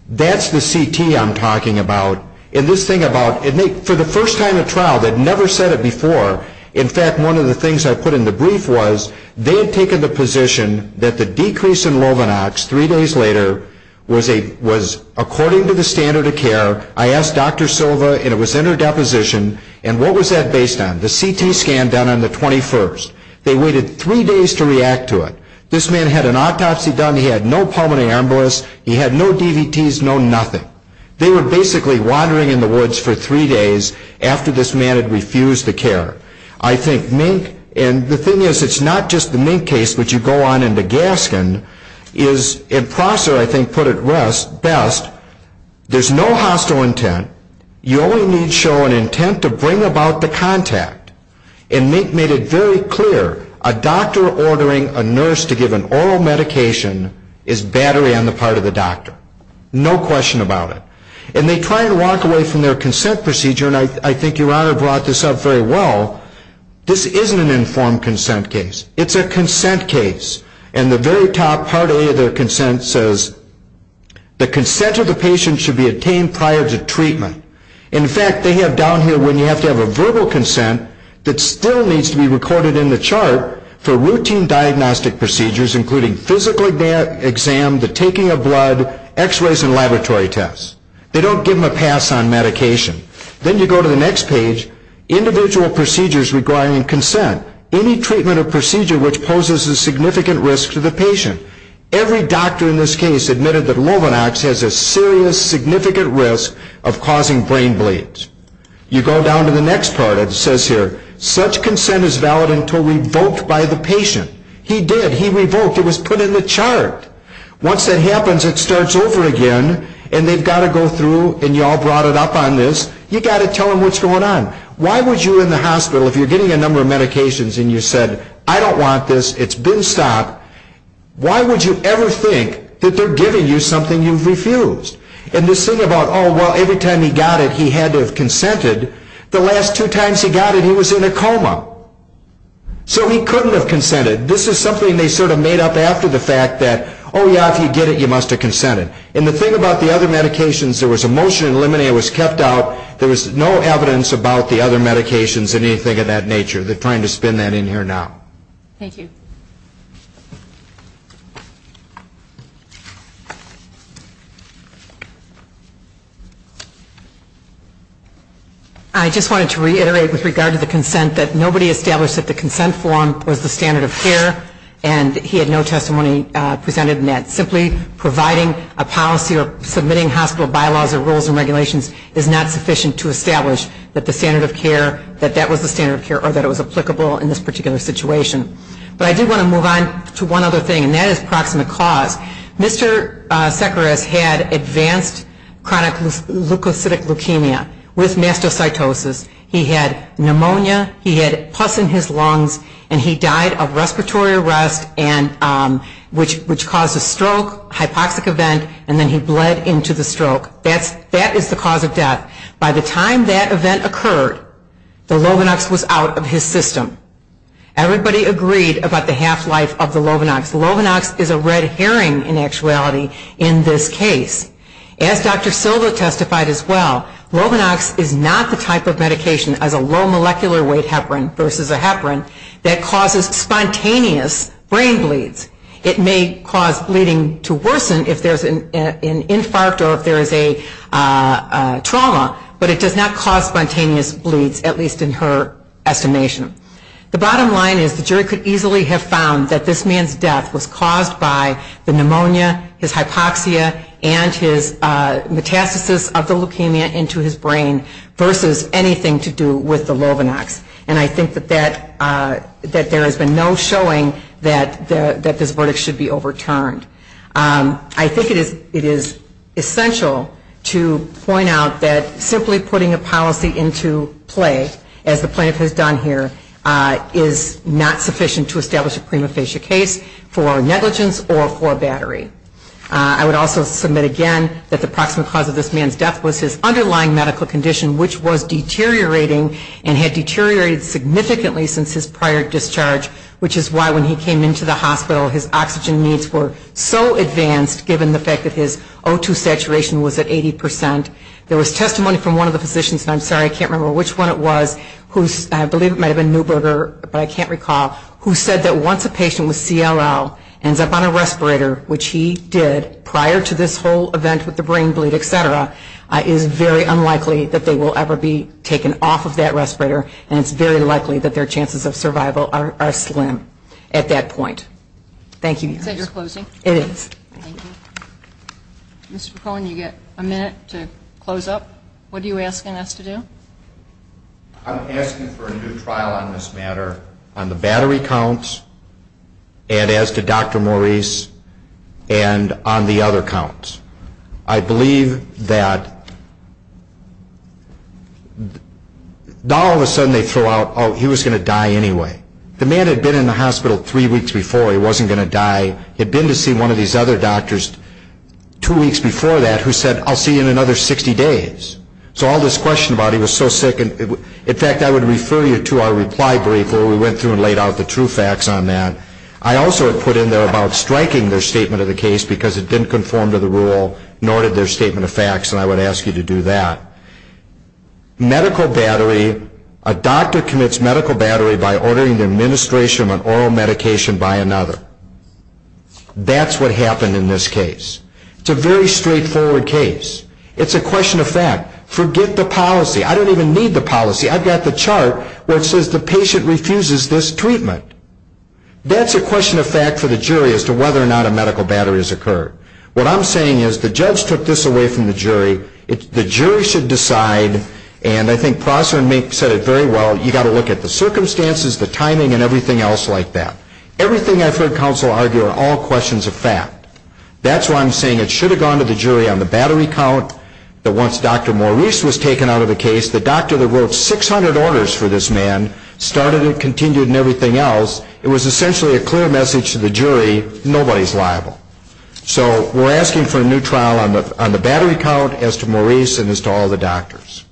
That's the CT I'm talking about. And this thing about, for the first time at trial, they'd never said it before. In fact, one of the things I put in the brief was they had taken the position that the decrease in low an ox three days later was according to the standard of care. I asked Dr. Silva, and it was in her deposition, and what was that based on? The CT scan done on the 21st. They waited three days to react to it. This man had an autopsy done. He had no pulmonary embolus. He had no DVTs, no nothing. They were basically wandering in the woods for three days after this man had refused the care. I think Mink, and the thing is it's not just the Mink case, which you go on into Gaskin, is, and Prosser, I think, put it best, there's no hostile intent. You only need to show an intent to bring about the contact. And Mink made it very clear. A doctor ordering a nurse to give an oral medication is battery on the part of the doctor. No question about it. And they try and walk away from their consent procedure, and I think your Honor brought this up very well. This isn't an informed consent case. It's a consent case. And the very top part of their consent says the consent of the patient should be obtained prior to treatment. In fact, they have down here where you have to have a verbal consent that still needs to be recorded in the chart for routine diagnostic procedures, including physical exam, the taking of blood, X-rays, and laboratory tests. They don't give them a pass on medication. Then you go to the next page, individual procedures regarding consent, any treatment or procedure which poses a significant risk to the patient. Every doctor in this case admitted that Robinox has a serious, significant risk of causing brain bleeds. You go down to the next part. It says here, such consent is valid until revoked by the patient. He did. He revoked. It was put in the chart. Once that happens, it starts over again, and they've got to go through, and you all brought it up on this. You've got to tell them what's going on. Why would you in the hospital, if you're getting a number of medications, and you said, I don't want this, it's been stopped, why would you ever think that they're giving you something you've refused? And this thing about, oh, well, every time he got it, he had to have consented. The last two times he got it, he was in a coma, so he couldn't have consented. This is something they sort of made up after the fact that, oh, yeah, if you get it, you must have consented. And the thing about the other medications, there was a motion in limiting it was kept out. There was no evidence about the other medications or anything of that nature. They're trying to spin that in here now. Thank you. I just wanted to reiterate with regard to the consent that nobody established that the consent form was the standard of care, and he had no testimony presented in that. Simply providing a policy or submitting hospital bylaws or rules and regulations is not sufficient to establish that the consent form was the standard of care or that it was applicable in this particular situation. But I do want to move on to one other thing, and that is proximate cause. Mr. Sekharov had advanced chronic leukocytic leukemia with mastocytosis. He had pneumonia. He had pus in his lungs, and he died of respiratory arrest, which caused a stroke, hypoxic event, and then he bled into the stroke. That is the cause of death. By the time that event occurred, the Lovenox was out of his system. Everybody agreed about the half-life of the Lovenox. The Lovenox is a red herring in actuality in this case. As Dr. Silver testified as well, Lovenox is not the type of medication as a low molecular weight heparin versus a heparin that causes spontaneous brain bleeds. It may cause bleeding to worsen if there is an infarct or if there is a trauma, but it does not cause spontaneous bleeds, at least in her estimation. The bottom line is the jury could easily have found that this man's death was caused by the pneumonia, his hypoxia, and his metastasis of the leukemia into his brain versus anything to do with the Lovenox. And I think that there is a no showing that this verdict should be overturned. I think it is essential to point out that simply putting a policy into place, as the plaintiff has done here, is not sufficient to establish a prima facie case for negligence or for battery. I would also submit again that the proximal cause of this man's death was his underlying medical condition, which was deteriorating and had deteriorated significantly since his prior discharge, which is why when he came into the hospital his oxygen needs were so advanced, given the fact that his O2 saturation was at 80%. There was testimony from one of the physicians, and I'm sorry I can't remember which one it was, who I believe might have been Neuberger, but I can't recall, who said that once a patient with CLL ends up on a respirator, which he did prior to this whole event with the brain bleed, etc., it is very unlikely that they will ever be taken off of that respirator, and it's very likely that their chances of survival are slim at that point. Thank you. You said you're closing? It is. Thank you. Mr. McClellan, you've got a minute to close up. What are you asking us to do? I'm asking for a new trial on this matter on the battery counts, and as to Dr. Maurice, and on the other counts. I believe that all of a sudden they throw out, oh, he was going to die anyway. The man had been in the hospital three weeks before, he wasn't going to die, had been to see one of these other doctors two weeks before that who said, I'll see you in another 60 days. So all this question about he was so sick, in fact, I would refer you to our reply brief where we went through and laid out the true facts on that. I also put in there about striking their statement of the case because it didn't conform to the rule, nor did their statement of facts, and I would ask you to do that. Medical battery, a doctor commits medical battery by ordering the administration of an oral medication by another. That's what happened in this case. It's a very straightforward case. It's a question of fact. Forget the policy. I don't even need the policy. I've got the chart where it says the patient refuses this treatment. That's a question of fact for the jury as to whether or not a medical battery has occurred. What I'm saying is the judge took this away from the jury. The jury should decide, and I think Prosser said it very well, you've got to look at the circumstances, the timing, and everything else like that. Everything I've heard counsel argue are all questions of fact. That's why I'm saying it should have gone to the jury on the battery count. Once Dr. Maurice was taken out of the case, the doctor that wrote 600 orders for this man started and continued and everything else. It was essentially a clear message to the jury, nobody's liable. So we're asking for a new trial on the battery count as to Maurice and as to all the doctors.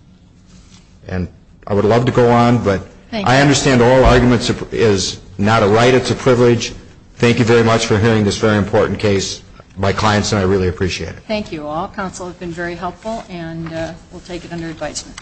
And I would love to go on, but I understand oral argument is not a right, it's a privilege. Thank you very much for hearing this very important case by clients, and I really appreciate it. Thank you all. Counsel has been very helpful, and we'll take it under advisement.